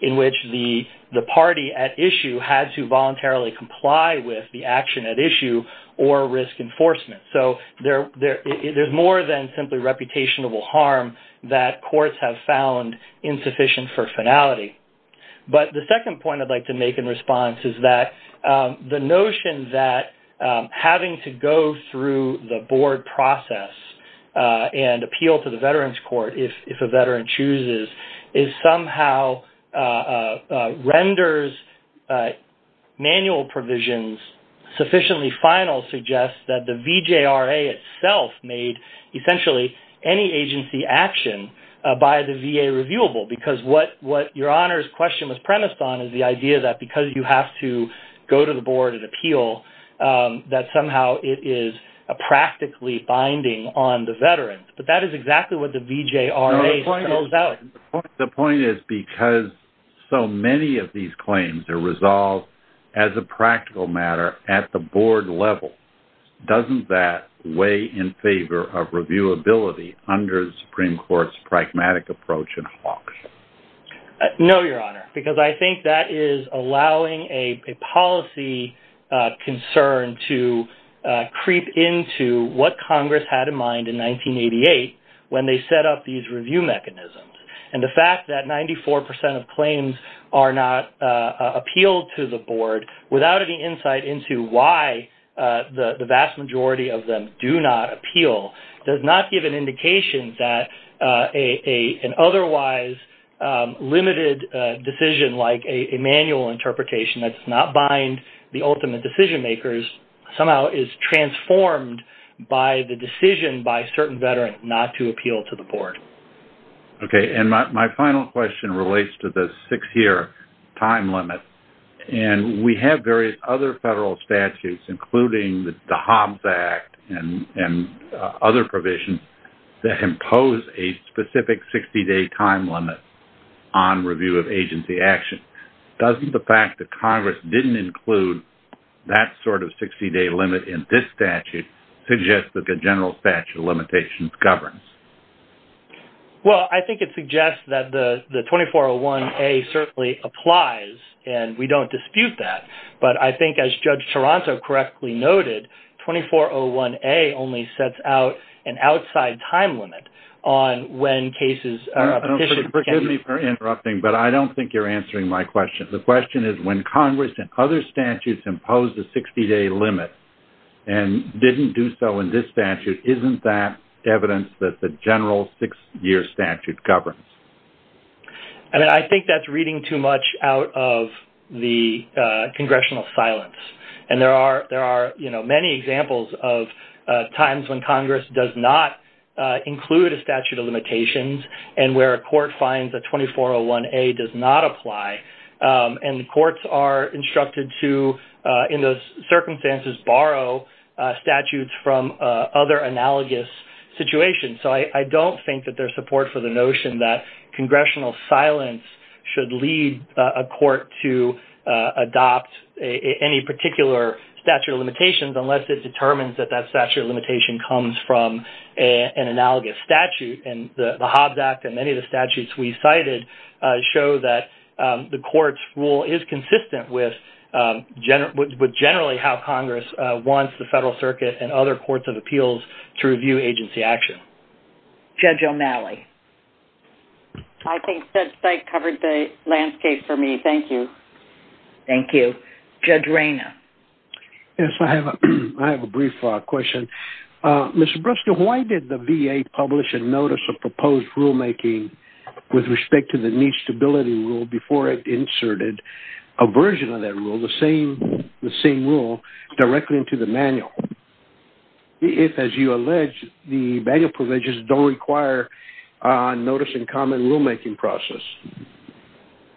in which the party at issue had to voluntarily comply with the action at issue or risk enforcement. So there's more than simply reputational harm that courts have found insufficient for finality. But the second point I'd like to make in response is that the notion that having to go through the board process and appeal to the Veterans Court, if a veteran chooses, is somehow renders manual provisions sufficiently final to suggest that the VJRA itself made essentially any agency action by the VA reviewable. Because what Your Honor's question was premised on is the idea that because you have to go to the board and appeal, that somehow it is a practically binding on the veteran. But that is exactly what the VJRA tells us. The point is because so many of these claims are resolved as a practical matter at the board level, doesn't that weigh in favor of reviewability under the Supreme Court's pragmatic approach in Hawks? No, Your Honor, because I think that is allowing a policy concern to creep into what Congress had in mind in 1988 when they set up these review mechanisms. And the fact that 94 percent of claims are not appealed to the board without any insight into why the vast majority of them do not appeal does not give an indication that an otherwise limited decision like a manual interpretation that does not bind the ultimate decision makers somehow is transformed by the decision by certain veterans not to appeal to the board. Okay, and my final question relates to the six-year time limit. And we have various other federal statutes, including the Hobbs Act and other provisions, that impose a specific 60-day time limit on review of agency action. Doesn't the fact that Congress didn't include that sort of 60-day limit in this statute suggest that the general statute of limitations governs? Well, I think it suggests that the 2401A certainly applies, and we don't dispute that. But I think as Judge Toronto correctly noted, 2401A only sets out an outside time limit on when cases are petitioned. Excuse me for interrupting, but I don't think you're answering my question. The question is, when Congress and other statutes impose a 60-day limit and didn't do so in this statute, isn't that evidence that the general six-year statute governs? And I think that's reading too much out of the congressional silence. And there are many examples of times when Congress does not include a statute of limitations and where a court finds a 2401A does not apply. And courts are instructed to, in those circumstances, borrow statutes from other analogous situations. So I don't think that there's support for the notion that congressional silence should lead a court to adopt any particular statute of limitations unless it determines that that statute of limitation comes from an analogous statute. And the Hobbs Act and many of the statutes we cited show that the court's rule is consistent with generally how Congress wants the Federal Circuit and other courts and appeals to review agency action. Judge O'Malley. I think that that covered the landscape for me. Thank you. Thank you. Judge Rayner. Yes. I have a brief question. Mr. Brewster, why did the VA publish a notice of proposed rulemaking with respect to the new stability rule before it inserted a version of that rule, the same rule, directly into the manual if, as you allege, the manual provisions don't require notice-in-common rulemaking process?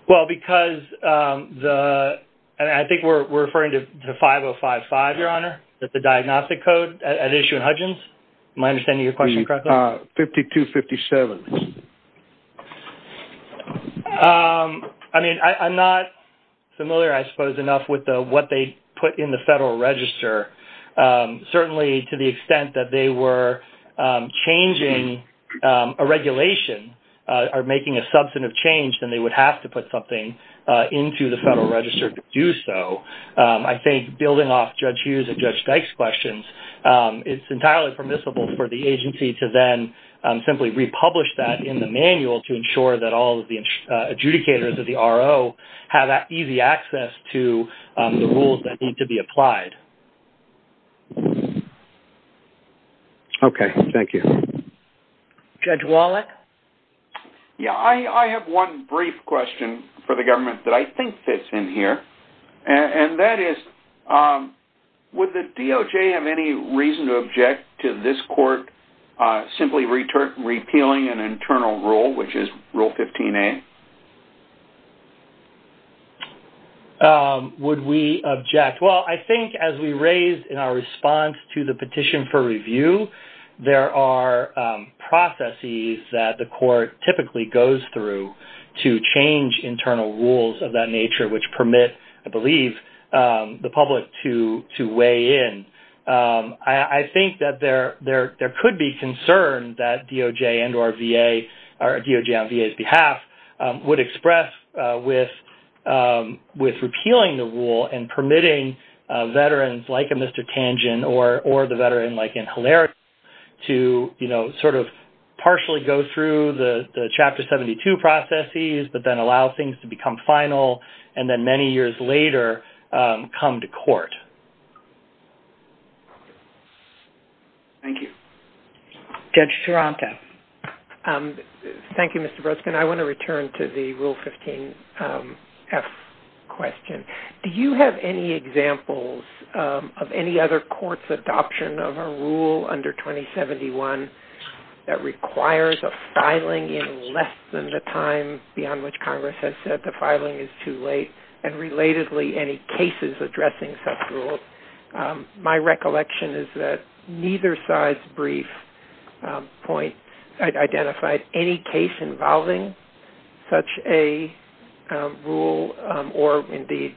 Well, because I think we're referring to 5055, Your Honor, the diagnostic code at issue in Hudgins. Am I understanding your question correctly? 5257. I mean, I'm not familiar, I suppose, enough with what they put in the Federal Register. Certainly, to the extent that they were changing a regulation or making a substantive change, they would have to put something into the Federal Register to do so. I think building off Judge Hughes and Judge Dykes' questions, it's entirely permissible for the agency to then simply republish that in the manual to ensure that all of the adjudicators of the RO have easy access to the rules that need to be applied. Okay. Thank you. Judge Wallach. Yeah. I have one brief question for the government that I think fits in here, and that is, would the DOJ have any reason to object to this court simply repealing an internal rule, which is Rule 15a? Would we object? Well, I think as we raised in our response to the petition for review, there are processes that the court typically goes through to change internal rules of that nature, which permit, I believe, the public to weigh in. I think that there could be concern that DOJ and or VA, DOJ on VA's behalf, would express with repealing the rule and permitting veterans like a Mr. Tangent or the veteran like in Hilarion to, you know, sort of partially go through the Chapter 72 processes, but then allow things to become final, and then many years later, come to court. Thank you. Judge Schirante. Thank you, Mr. Brodsky. I want to return to the Rule 15f question. Do you have any examples of any other court's adoption of a rule under 2071 that requires a filing in less than the time beyond which Congress has said the filing is too late? And, relatedly, any cases addressing such rules? My recollection is that neither side's brief point identified any case involving such a rule or, indeed,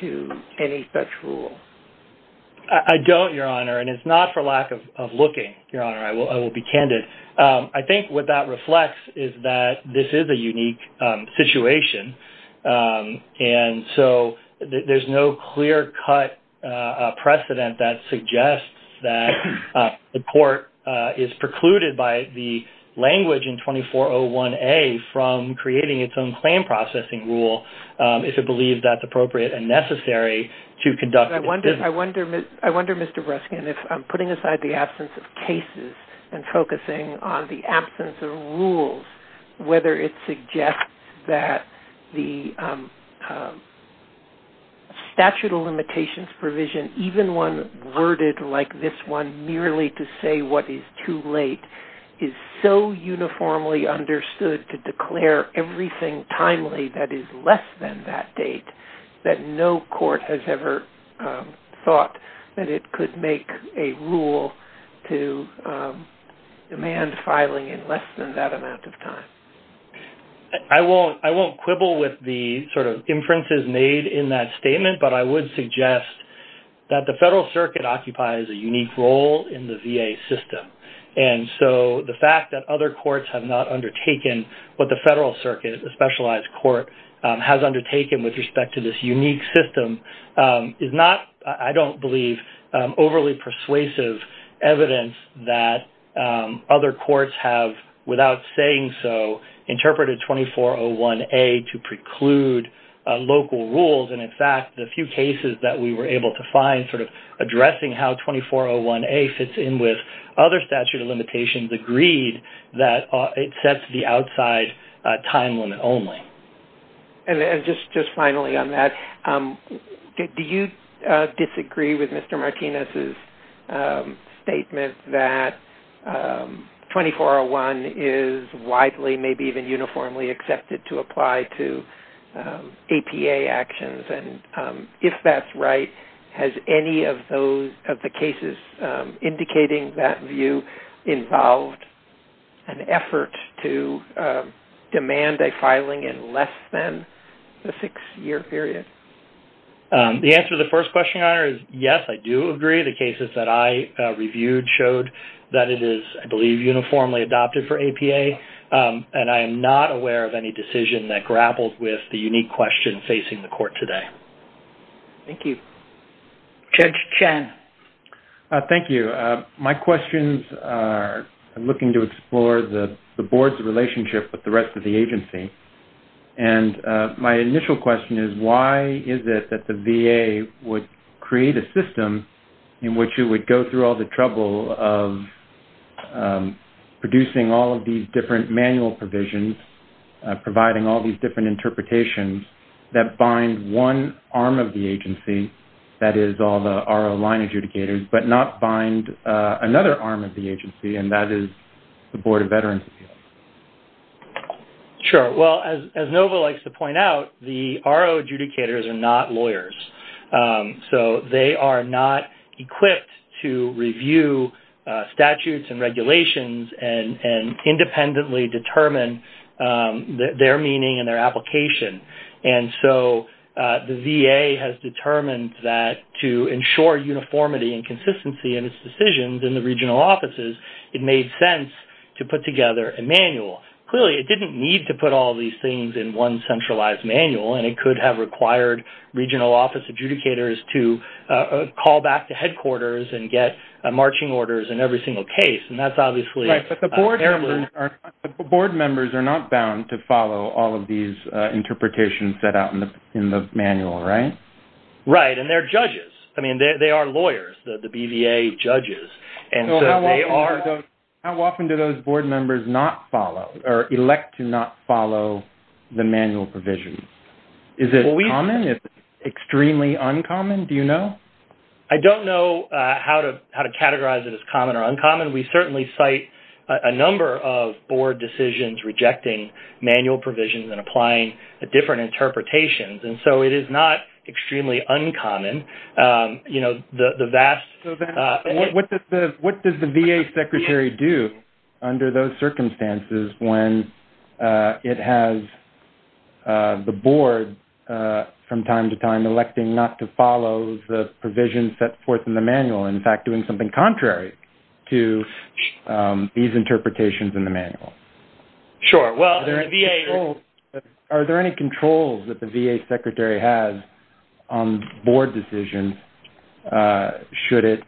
to any such rule. I don't, Your Honor, and it's not for lack of looking, Your Honor. I will be candid. I think what that reflects is that this is a unique situation, and so there's no clear-cut precedent that suggests that the court is precluded by the language in 2401A from creating its own claim processing rule if it believes that's appropriate and necessary to conduct- But I wonder, Mr. Brodsky, and if I'm putting aside the absence of cases and focusing on the even one worded like this one merely to say what is too late is so uniformly understood to declare everything timely that is less than that date that no court has ever thought that it could make a rule to demand filing in less than that amount of time. I won't quibble with the, sort of, that the Federal Circuit occupies a unique role in the VA system, and so the fact that other courts have not undertaken what the Federal Circuit, the specialized court, has undertaken with respect to this unique system is not, I don't believe, overly persuasive evidence that other courts have, without saying so, interpreted 2401A to preclude local rules. And, in fact, the few cases that we were able to find sort of addressing how 2401A fits in with other statute of limitations agreed that it sets the outside time limit only. And just finally on that, do you disagree with Mr. Martinez's statement that if that's right, has any of the cases indicating that view involved an effort to demand a filing in less than the six-year period? The answer to the first question, Your Honor, is yes, I do agree. The cases that I reviewed showed that it is, I believe, uniformly adopted for APA, and I am not aware of any decision that grapples with the unique question facing the court today. Thank you. Judge Chen. Thank you. My questions are looking to explore the board's relationship with the rest of the agency, and my initial question is why is it that the VA would create a system in which you would go through all the trouble of producing all these different manual provisions, providing all these different interpretations that bind one arm of the agency, that is, all the RO line adjudicators, but not bind another arm of the agency, and that is the Board of Veterans Appeals? Sure. Well, as Nova likes to point out, the RO adjudicators are not lawyers. So they are not equipped to review statutes and regulations and independently determine their meaning and their application. And so the VA has determined that to ensure uniformity and consistency in its decisions in the regional offices, it made sense to put together a manual. Clearly, it did not need to put all these things in one centralized manual, and it could have required regional office adjudicators to call back to the board members. But the board members are not bound to follow all of these interpretations set out in the manual, right? Right. And they're judges. I mean, they are lawyers, the BVA judges. And so they are... How often do those board members not follow or elect to not follow the manual provisions? Is it common? Is it extremely uncommon? Do you know? I don't know how to categorize it as common or uncommon. We certainly cite a number of board decisions rejecting manual provisions and applying the different interpretations. And so it is not extremely uncommon. The vast... What does the VA secretary do under those circumstances when it has the board, from time to time, electing not to follow the provisions set forth in the manual, in fact, doing something contrary to these interpretations in the manual? Sure. Well, the VA... Are there any controls that the VA secretary has on board decisions? Should it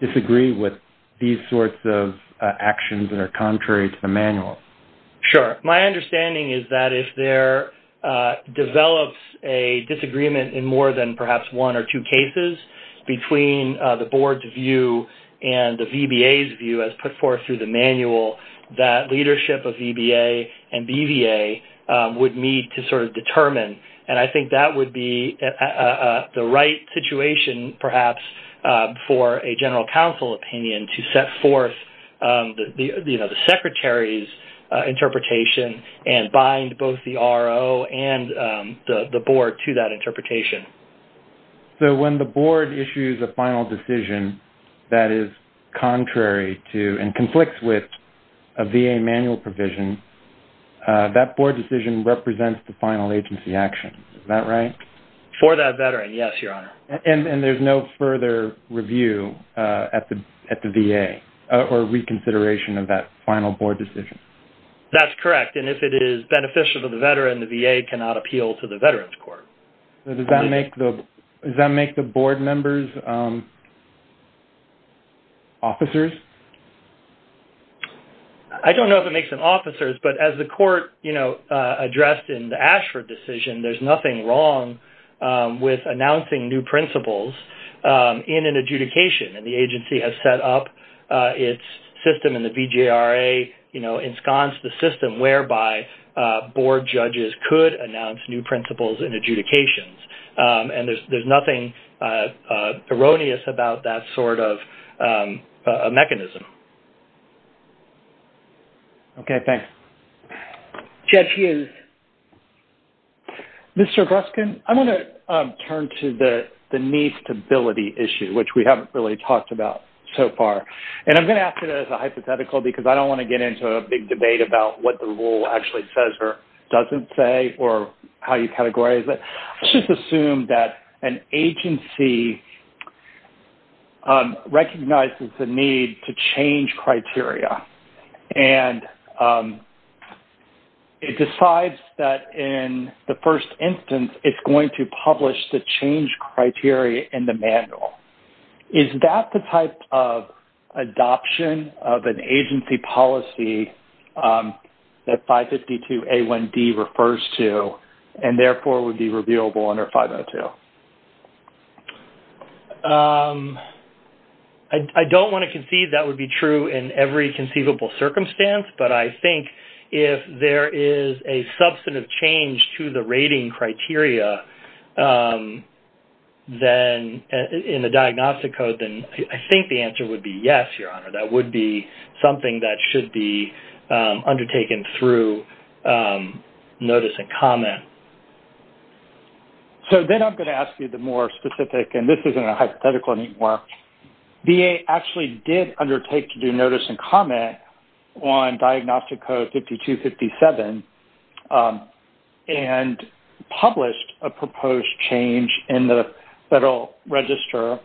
disagree with these sorts of actions that are contrary to the manual? Sure. My understanding is that if there develops a disagreement in more than perhaps one or two cases between the board's view and the VBA's view as put forth through the manual, that leadership of VBA and BVA would need to sort of determine. And I think that would be the right situation, perhaps, for a general counsel opinion to set forth the secretary's interpretation and bind both the RO and the board to that interpretation. So when the board issues a final decision that is contrary to and conflicts with a VA manual provision, that board decision represents the final agency action. Is that right? For that veteran, yes, Your Honor. And there's no further review at the VA or reconsideration of that final board decision? That's correct. And if it is beneficial to the veteran, the VA cannot appeal to the veterans court. Does that make the board members officers? I don't know if it makes them officers, but as the court addressed in the Ashford decision, there's nothing wrong with announcing new principles in an adjudication. And the agency has set up its system in the VJRA, ensconced the system whereby board judges could announce new principles in adjudications. And there's nothing erroneous about that sort of mechanism. Okay, thanks. Judge Hughes. Mr. Breskin, I'm going to turn to the knee stability issue, which we haven't really talked about so far. And I'm going to ask it as a hypothetical because I don't want to get into a big debate about what the rule actually says or doesn't say or how you categorize it. Let's just assume that an agency recognizes the need to change criteria. And it decides that in the first instance, it's going to publish the change criteria in the manual. Is that the type of adoption of an agency policy that 552A1B refers to, and therefore would be revealable under 502? I don't want to concede that would be true in every conceivable circumstance. But I think if there is a substantive change to the rating criteria in the diagnostic code, then I think the answer would be yes, Your Honor. That would be something that should be undertaken through notice and comment. So then I'm going to ask you the more specific, and this isn't a hypothetical anymore. VA actually did undertake to do notice and comment on diagnostic code 5257 and published a proposed change in the Federal Register,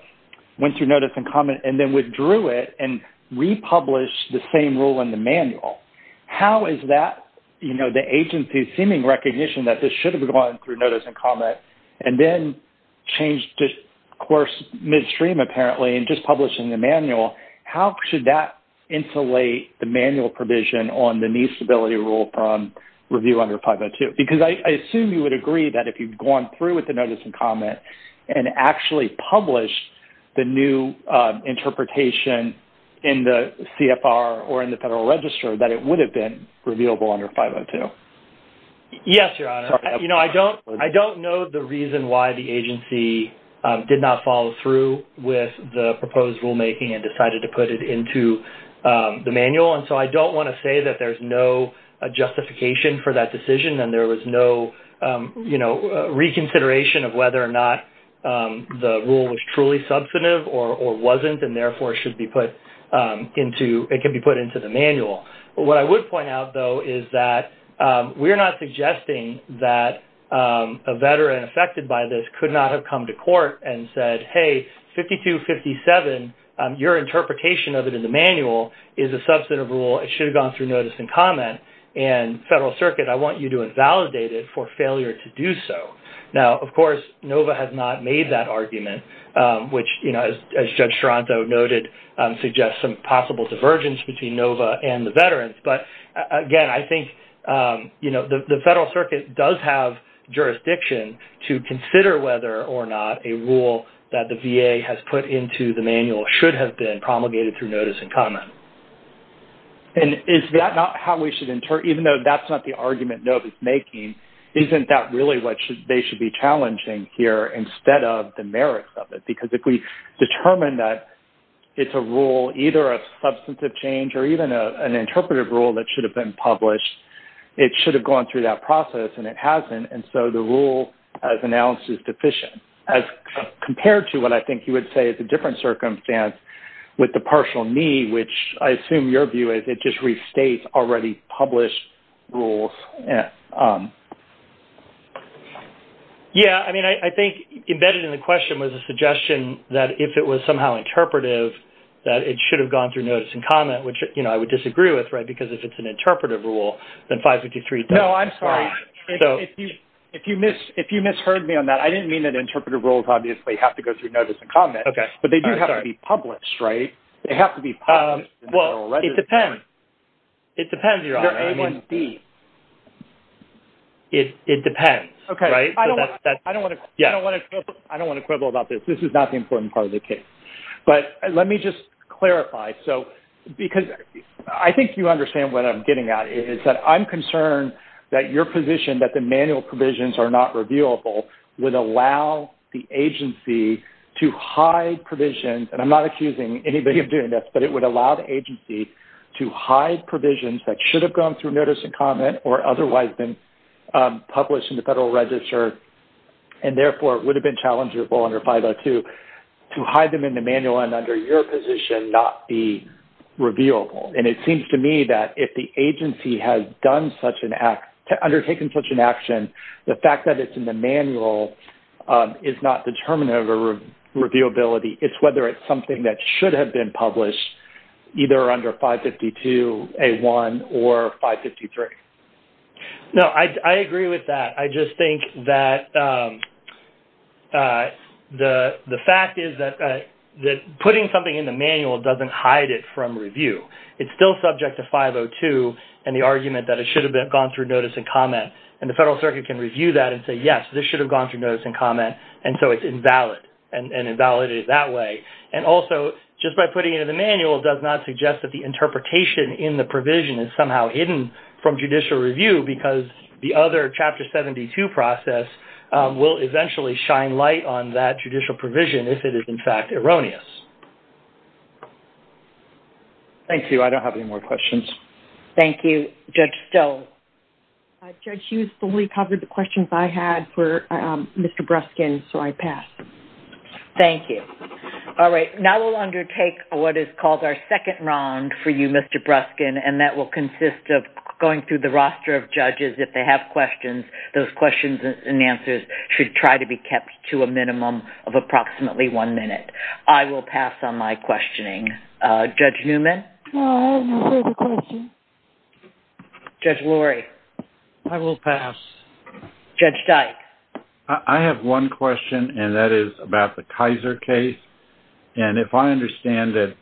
went through notice and comment, and then withdrew it and republished the same rule in the manual. How is that, you know, the agency's seeming recognition that this should have gone through notice and comment, and then changed to, of course, midstream apparently and just published in the manual. How should that insulate the manual provision on the new stability rule from review under 502? Because I assume you would agree that if you've gone through with the notice and comment and actually published the new interpretation in the CFR or in the Federal Register that it would have been revealable under 502. Yes, Your Honor. You know, I don't know the and decided to put it into the manual. And so I don't want to say that there's no justification for that decision and there was no, you know, reconsideration of whether or not the rule was truly substantive or wasn't, and therefore should be put into, it can be put into the manual. What I would point out, though, is that we're not suggesting that a veteran affected by this could not have come to court and said, hey, 5257, your interpretation of it in the manual is a substantive rule. It should have gone through notice and comment. And Federal Circuit, I want you to invalidate it for failure to do so. Now, of course, NOVA has not made that argument, which, you know, as Judge Toronto noted, suggests some possible divergence between NOVA and the veterans. But again, I think, you know, the Federal Circuit does have jurisdiction to consider whether or not a rule that the VA has put into the manual should have been promulgated through notice and comment. And is that not how we should, even though that's not the argument NOVA is making, isn't that really what they should be challenging here instead of the merits of it? Because if we determine that it's a rule either of substantive change or even an interpretive rule that should have been published, it should have gone through that process, and it hasn't. And so the rule, as announced, is deficient. Compared to what I think you would say is a different circumstance with the partial need, which I assume your view is it just restates already published rules. Yeah. Yeah. I mean, I think embedded in the question was a suggestion that if it was somehow interpretive, that it should have gone through notice and comment, which, you know, I would disagree with, right, because if it's an interpretive rule, it should have gone through notice and comment. If you misheard me on that, I didn't mean that interpretive rules obviously have to go through notice and comment, but they do have to be published, right? They have to be published. Well, it depends. It depends. It depends. Okay. I don't want to quibble about this. This is not the important part of the case. But let me just clarify. So because I think you understand what I'm getting at is that I'm that your position that the manual provisions are not revealable would allow the agency to hide provisions, and I'm not accusing anybody of doing this, but it would allow the agency to hide provisions that should have gone through notice and comment or otherwise been published in the Federal Register, and therefore would have been challengeable under 502, to hide them in the manual and under your position not be revealable. And it seems to me that if the agency has undertaken such an action, the fact that it's in the manual is not determinative of reviewability. It's whether it's something that should have been published, either under 552A1 or 553. No, I agree with that. I just think that the fact is that putting something in the manual doesn't hide it from review. It's still subject to 502 and the argument that it should have gone through notice and comment. And the Federal Circuit can review that and say, yes, this should have gone through notice and comment, and so it's invalid and invalidated that way. And also, just by putting it in the manual does not suggest that the interpretation in the provision is somehow hidden from judicial review because the other Chapter 72 process will eventually shine light on that judicial provision if it is, in fact, erroneous. Thank you. I don't have any more questions. Thank you, Judge Stowe. Judge, you fully covered the questions I had for Mr. Bruskin, so I pass. Thank you. All right. Now we'll undertake what is called our second round for you, Mr. Bruskin, and that will consist of going through the roster of judges. If they have questions, those questions and answers should try to be kept to a minimum of approximately one minute. I will pass on my questioning. Judge Newman? I have no further questions. Judge Lurie? I will pass. Judge Dyke? I have one question, and that is about the Kaiser case. And if I understand it,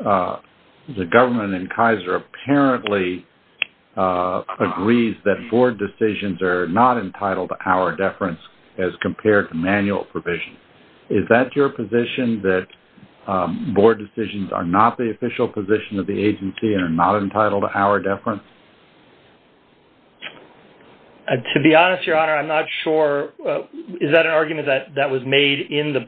the government in Kaiser apparently agrees that board decisions are not entitled to hour deference as compared to manual provision. Is that your position that board decisions are not the official position of the agency and are not entitled to hour deference? To be honest, Your Honor, I'm not sure. Is that an argument that was made in the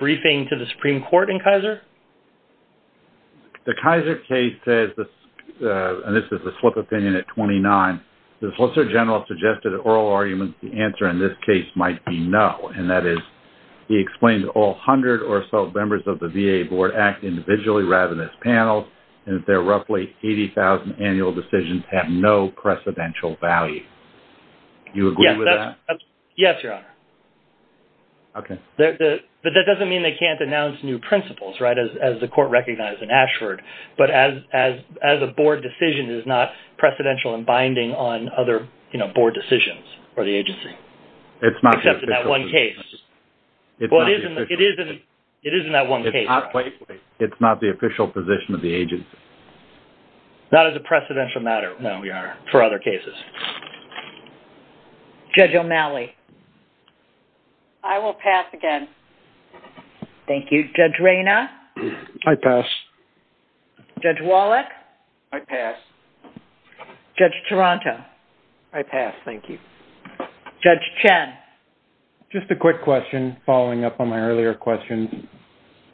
Kaiser case? And this is a slip of opinion at 29. The Solicitor General suggested oral arguments. The answer in this case might be no. And that is, he explained all 100 or so members of the VA board act individually rather than as panels, and that roughly 80,000 annual decisions have no precedential value. Do you agree with that? Yes, Your Honor. Okay. But that doesn't mean they can't announce new principles, right, as the court recognized in Ashford. But as a board decision, it is not precedential and binding on other, you know, board decisions for the agency. It's not the official position. Except in that one case. It's not the official position. It is in that one case. It's not the official position of the agency. Not as a precedential matter, no, for other cases. Judge O'Malley? I will pass again. Thank you. Judge Rayna? I pass. Judge Wallach? I pass. Judge Taranto? I pass. Thank you. Judge Chen? Just a quick question, following up on my earlier question.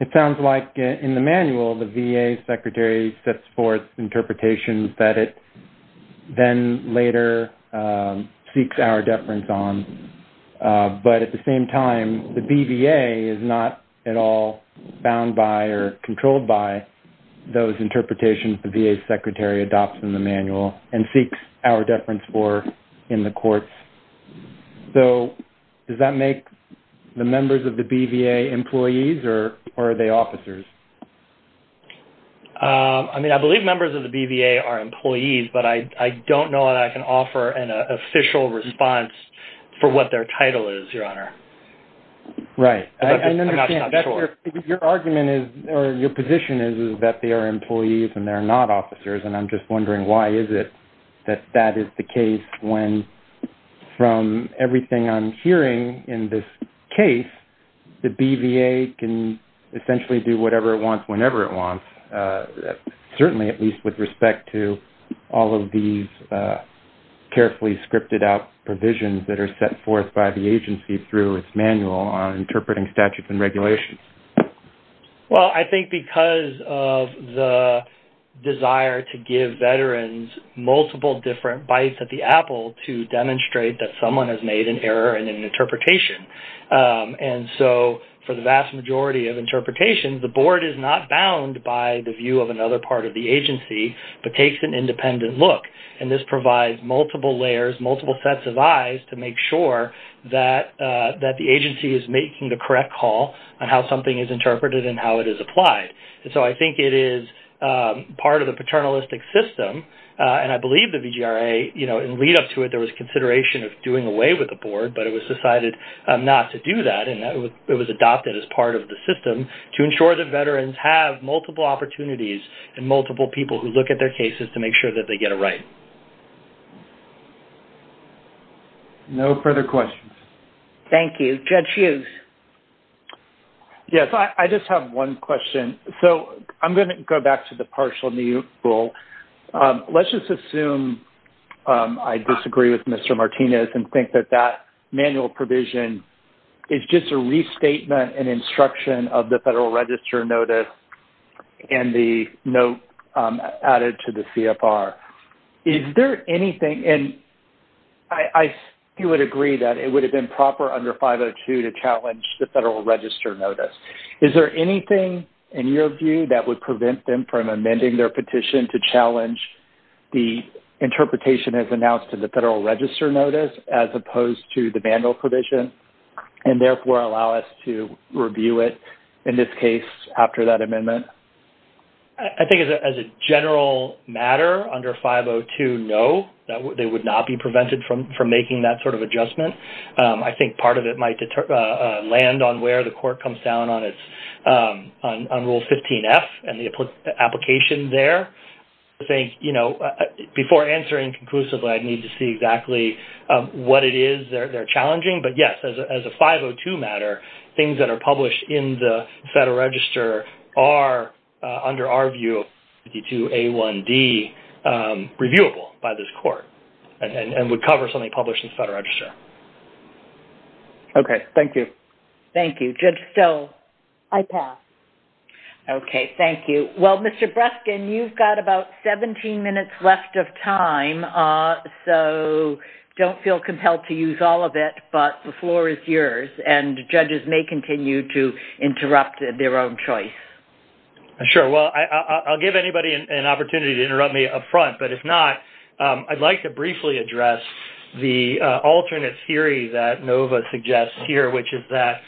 It sounds like in the manual, the VA secretary sets forth interpretations that it then later seeks our deference on. But at the same time, the BVA is not at all bound by or controlled by those interpretations the VA secretary adopts in the manual and seeks our deference for in the courts. So does that make the members of the BVA? I believe members of the BVA are employees, but I don't know that I can offer an official response for what their title is, Your Honor. Right. Your argument or your position is that they are employees and they're not officers. And I'm just wondering, why is it that that is the case when from everything I'm hearing in this case, the BVA can essentially do whatever it wants, certainly at least with respect to all of these carefully scripted out provisions that are set forth by the agency through its manual on interpreting statutes and regulations? Well, I think because of the desire to give veterans multiple different bites at the apple to demonstrate that someone has made an error in an interpretation. And so for the vast majority of interpretations, the board is not bound by the view of another part of the agency, but takes an independent look. And this provides multiple layers, multiple sets of eyes to make sure that the agency is making the correct call on how something is interpreted and how it is applied. And so I think it is part of the paternalistic system. And I believe the VGRA, you know, in lead up to it, there was consideration of doing away with the board, but it was decided not to do that. And it was adopted as part of the system to ensure that veterans have multiple opportunities and multiple people who look at their cases to make sure that they get it right. No further questions. Thank you. Judge Hughes. Yes, I just have one question. So I'm going to go back to the partial mutual. Let's just assume I disagree with Mr. Martinez and think that that manual provision is just a restatement and instruction of the Federal Register Notice and the note added to the CFR. Is there anything, and I would agree that it would have been proper under 502 to challenge the Federal Register Notice. Is there anything in your view that would prevent them from amending their petition to challenge the interpretation as announced to the Federal Register Notice as opposed to the manual provision and therefore allow us to review it in this case after that amendment? I think as a general matter, under 502, no, they would not be prevented from making that sort of adjustment. I think part of it might land on where the court comes down on rule 15F and the application there. I think, you know, before answering conclusively, I'd need to see exactly what it is they're challenging. But yes, as a 502 matter, things that are published in the Federal Register are, under our view, 502A1D reviewable by this court and would cover something published in the Federal Register. Okay, thank you. Thank you. Judge Stowe. I pass. Okay, thank you. Well, Mr. Breskin, you've got about 17 minutes left of time, so don't feel compelled to use all of it, but the floor is yours, and judges may continue to interrupt their own choice. Sure. Well, I'll give anybody an opportunity to interrupt me up front, but if not, I'd like to briefly address the alternate theory that Nova suggests here, which is that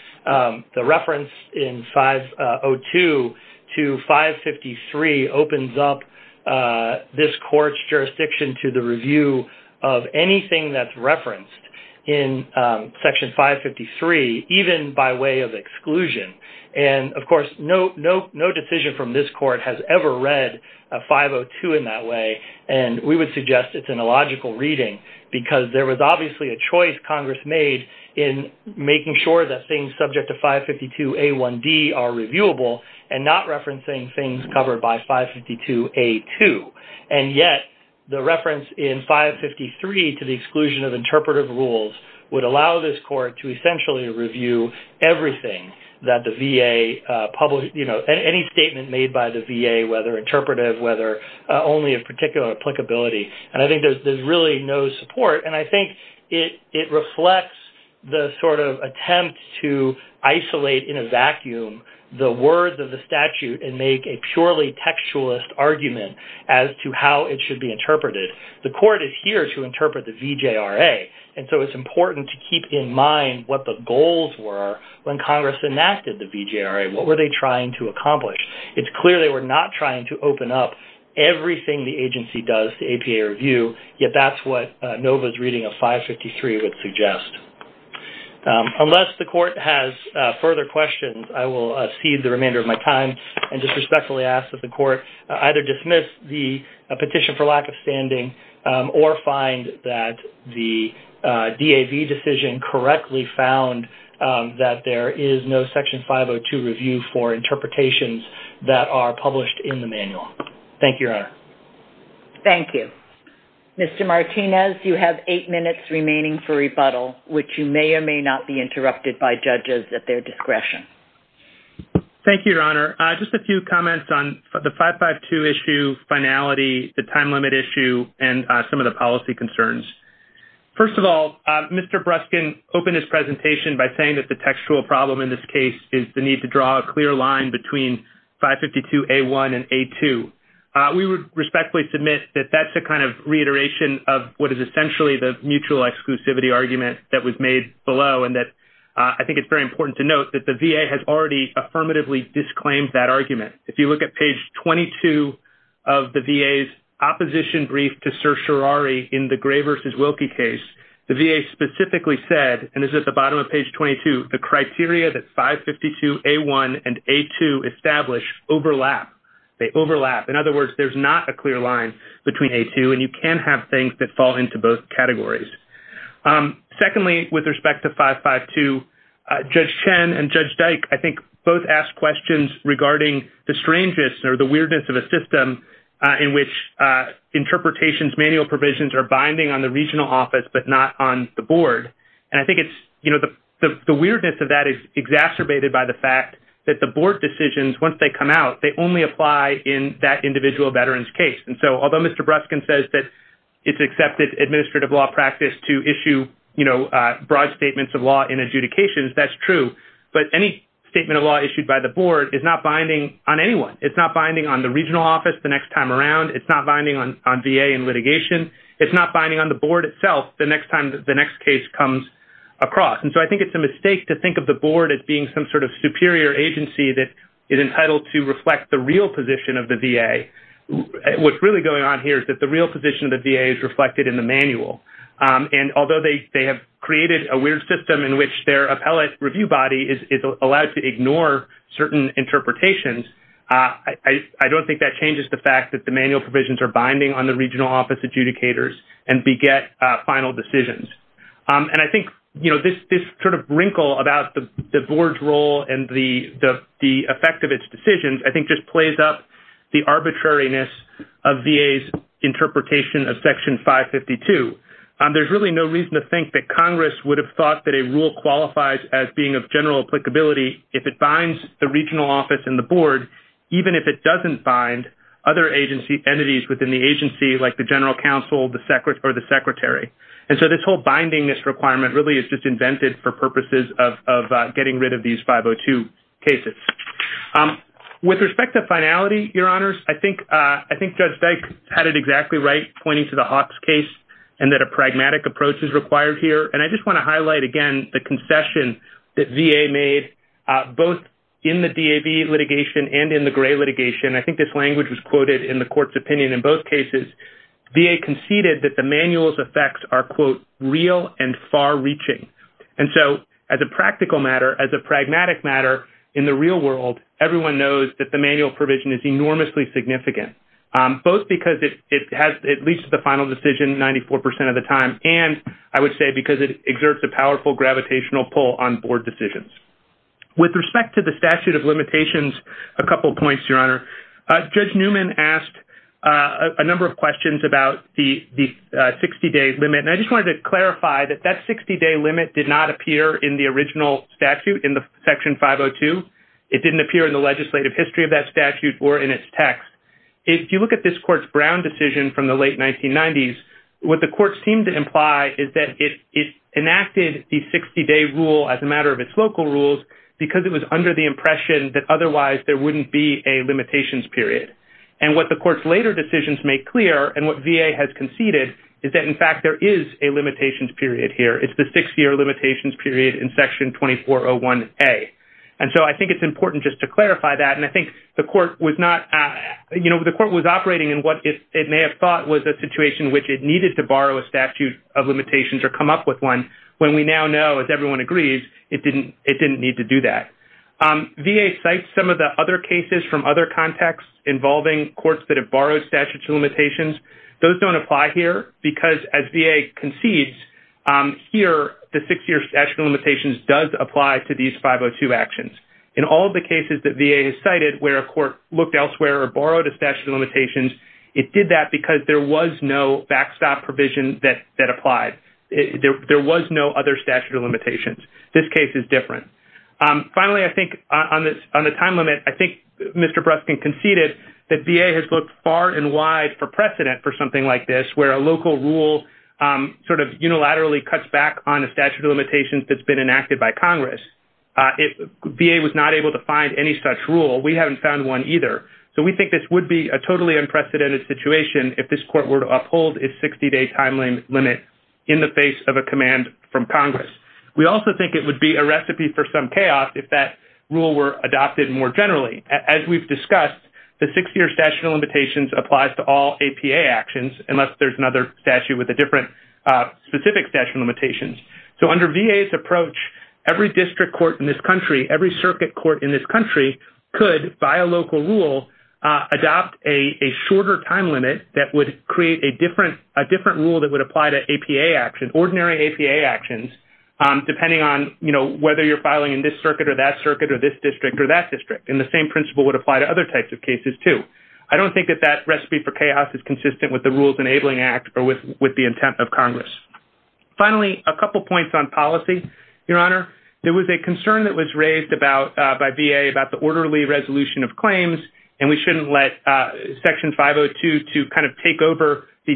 the reference in 502 to 553 opens up this court's jurisdiction to the review of anything that's referenced in Section 553, even by way of exclusion. And, of course, no decision from this court has ever read a 502 in that way, and we would suggest it's an illogical reading because there was obviously a choice Congress made in making sure that things subject to 552A1D are reviewable and not referencing things covered by 552A2. And yet, the reference in 553 to the exclusion of interpretive rules would allow this court to essentially review everything that the VA published, any statement made by the VA, whether interpretive, whether only of particular applicability. And I think there's really no support, and I think it reflects the sort of attempt to isolate in a vacuum the words of the statute and make a purely textualist argument as to how it should be interpreted. The court is here to interpret the VJRA, and so it's important to keep in mind what the goals were when Congress enacted the VJRA. What were they trying to accomplish? It's clear they were not trying to open up everything the agency does to APA review, yet that's what NOVA's reading of 553 would suggest. Unless the court has further questions, I will cede the remainder of my time and just respectfully ask that the court either dismiss the petition for lack of standing or find that the DAV decision correctly found that there is no Section 502 review for interpretations that are published in the manual. Thank you, Your Honor. Thank you. Mr. Martinez, you have eight minutes remaining for rebuttal, which you may or may not be interrupted by judges at their discretion. Thank you, Your Honor. Just a few comments on the 552 issue finality, the time limit issue, and some of the policy concerns. First of all, Mr. Bruskin opened his presentation by saying that the textual problem in this case is the need to draw a clear line between 552A1 and A2. We would respectfully submit that that's a kind of reiteration of what is essentially the mutual exclusivity argument that was made below and that I think it's very important to note that the VA has already affirmatively disclaimed that argument. If you look at page 22 of the VA's exposition brief to Sir Shirari in the Gray v. Wilkie case, the VA specifically said, and this is at the bottom of page 22, the criteria that 552A1 and A2 establish overlap. They overlap. In other words, there's not a clear line between A2 and you can have things that fall into both categories. Secondly, with respect to 552, Judge Chen and Judge Dyke, I think, both asked questions regarding the strangeness or the weirdness of a system in which interpretations, manual provisions are binding on the regional office but not on the board. And I think it's, you know, the weirdness of that is exacerbated by the fact that the board decisions, once they come out, they only apply in that individual veteran's case. And so although Mr. Bruskin says that it's accepted administrative law practice to issue, you know, broad statements of law in adjudications, that's true. But any statement of law issued by the board is not binding on anyone. It's not binding on the regional office the next time around. It's not binding on VA and litigation. It's not binding on the board itself the next time the next case comes across. And so I think it's a mistake to think of the board as being some sort of superior agency that is entitled to reflect the real position of the VA. What's really going on here is that the real position of the VA is reflected in the manual. And although they have created a weird system in which their appellate review body is allowed to ignore certain interpretations, I don't think that changes the fact that the manual provisions are binding on the regional office adjudicators and beget final decisions. And I think, you know, this sort of wrinkle about the board's role and the effect of its decisions, I think, just plays up the arbitrariness of VA's interpretation of Section 552. There's really no reason to think that Congress would have thought that a rule qualifies as being of general applicability if it binds the regional office and the board, even if it doesn't bind other entities within the agency, like the general counsel or the secretary. And so this whole bindingness requirement really is just invented for purposes of getting rid of these 502 cases. With respect to finality, Your Honors, I think Judge Feig had it exactly right, pointing to the Hopps case, and that a pragmatic approach is required here. And I just want to make, both in the DAV litigation and in the Gray litigation, I think this language was quoted in the court's opinion in both cases, VA conceded that the manual's effects are, quote, real and far-reaching. And so as a practical matter, as a pragmatic matter, in the real world, everyone knows that the manual provision is enormously significant, both because it has at least the final decision 94% of the time, and I would say because it exerts a powerful gravitational pull on board decisions. With respect to the statute of limitations, a couple of points, Your Honor. Judge Newman asked a number of questions about the 60-day limit, and I just wanted to clarify that that 60-day limit did not appear in the original statute, in the Section 502. It didn't appear in the legislative history of that statute or in its text. If you look at this court's ground decision from the late 1990s, what the court seemed to imply is that it enacted the 60-day rule as a matter of its local rules because it was under the impression that otherwise there wouldn't be a limitations period. And what the court's later decisions make clear and what VA has conceded is that, in fact, there is a limitations period here. It's the six-year limitations period in Section 2401A. And so I think it's important just to clarify that, and I think the court was not, you know, the court was operating in what it may have thought was a situation which it needed to borrow a statute of limitations or come up with one when we now know, as everyone agrees, it didn't need to do that. VA cites some of the other cases from other contexts involving courts that have borrowed statute of limitations. Those don't apply here because, as VA concedes here, the six-year statute of limitations does apply to these 502 actions. In all of the cases that VA has cited where a court looked elsewhere or borrowed a statute of limitations, it did that because there was no backstop provision that applied. There was no statute of limitations. This case is different. Finally, I think, on the time limit, I think Mr. Breskin conceded that VA has looked far and wide for precedent for something like this where a local rule sort of unilaterally cuts back on the statute of limitations that's been enacted by Congress. VA was not able to find any such rule. We haven't found one either. So we think this would be a totally unprecedented situation if this court were to uphold its 60-day time limit in the face of a command from Congress. We also think it would be a recipe for some chaos if that rule were adopted more generally. As we've discussed, the six-year statute of limitations applies to all APA actions, unless there's another statute with a different specific statute of limitations. So under VA's approach, every district court in this country, every circuit court in this country, could, by a local rule, adopt a shorter time limit that would create a different rule that would apply to APA actions, ordinary APA actions, depending on, you know, whether you're filing in this circuit or that circuit or this district or that district. And the same principle would apply to other types of cases too. I don't think that that recipe for chaos is consistent with the Rules Enabling Act or with the intent of Congress. Finally, a couple points on policy, Your Honor. There was a concern that was raised by VA about the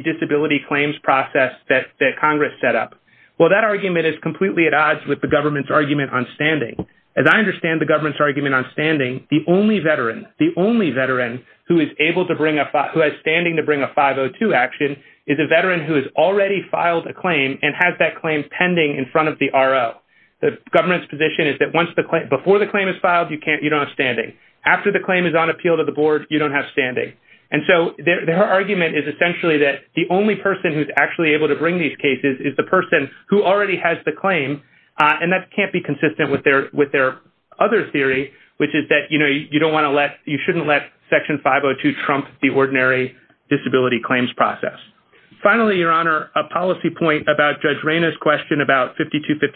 disability claims process that Congress set up. Well, that argument is completely at odds with the government's argument on standing. As I understand the government's argument on standing, the only veteran, the only veteran who is able to bring a, who has standing to bring a 502 action, is a veteran who has already filed a claim and has that claim pending in front of the RO. The government's position is that once the claim, before the claim is filed, you can't, you don't have standing. After the claim is on appeal to the board, you don't have standing. And so their argument is essentially that the only person who's actually able to bring these cases is the person who already has the claim. And that can't be consistent with their other theory, which is that, you know, you don't want to let, you shouldn't let Section 502 trump the ordinary disability claims process. Finally, Your Honor, a policy point about Judge Rayner's question about 5257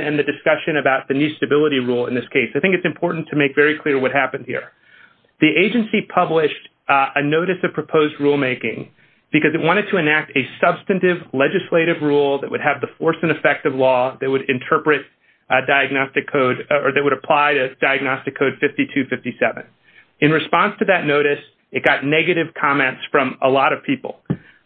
and the discussion about the new stability rule in this case. I think it's important to make very clear what happened here. The agency published a notice of proposed rulemaking because it wanted to enact a substantive legislative rule that would have the force and effect of law that would interpret a diagnostic code or that would apply to diagnostic code 5257. In response to that notice, it got negative comments from a lot of people.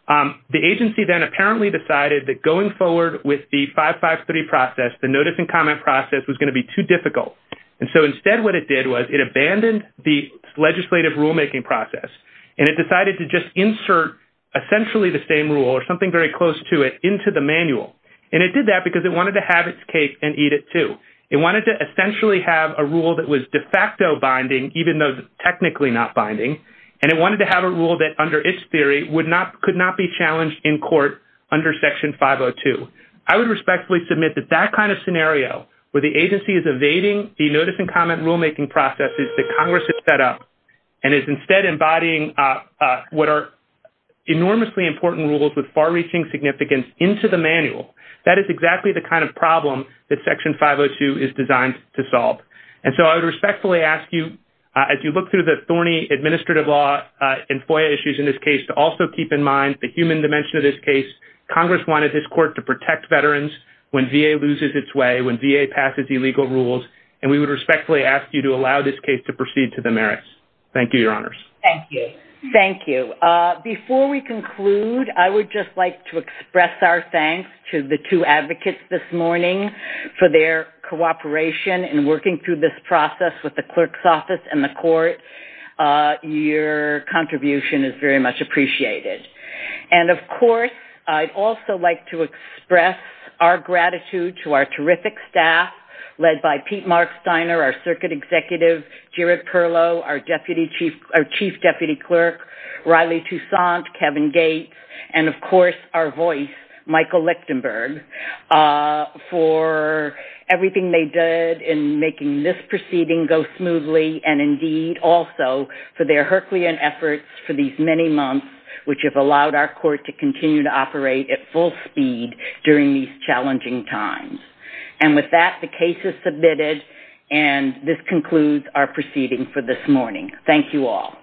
The agency then apparently decided that going forward with the 553 process, the notice and comment process was going to be too difficult. And so instead what it did was it abandoned the legislative rulemaking process. And it decided to just insert essentially the same rule or something very close to it into the manual. And it did that because it wanted to have its case and eat it too. It wanted to essentially have a rule that was de facto binding, even though it's technically not binding. And it wanted to have a rule that under its theory would not, could not be challenged in court under Section 502. I would respectfully submit that that kind of scenario where the agency is evading the notice and comment rulemaking processes that Congress has set up and is instead embodying what are enormously important rules with far-reaching significance into the manual, that is exactly the kind of problem that Section 502 is designed to solve. And so I would respectfully ask you, as you look through the thorny administrative law and FOIA issues in this case, to also keep in mind the human dimension of this case. Congress wanted this court to protect veterans when VA loses its way, when VA passes illegal rules. And we would respectfully ask you to allow this case to proceed to the merits. Thank you, Your Honors. Thank you. Thank you. Before we conclude, I would just like to express our thanks to the two advocates this morning for their cooperation in working through this process with the clerk's office and the court. Your contribution is very much appreciated. And, of course, I'd also like to express our gratitude to our terrific staff, led by Pete Marksteiner, our Circuit Executive, Jaret Perlow, our Chief Deputy Clerk, Riley Toussaint, Kevin Gates, and, of course, our voice, Michael Lichtenberg, for everything they did in making this proceeding go smoothly and, indeed, also for their herculean efforts for these many months, which have allowed our court to continue to operate at full speed during these challenging times. And with that, the case is submitted, and this concludes our proceeding for this morning. Thank you all.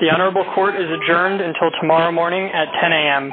The Honorable Court is adjourned until tomorrow morning at 10 a.m.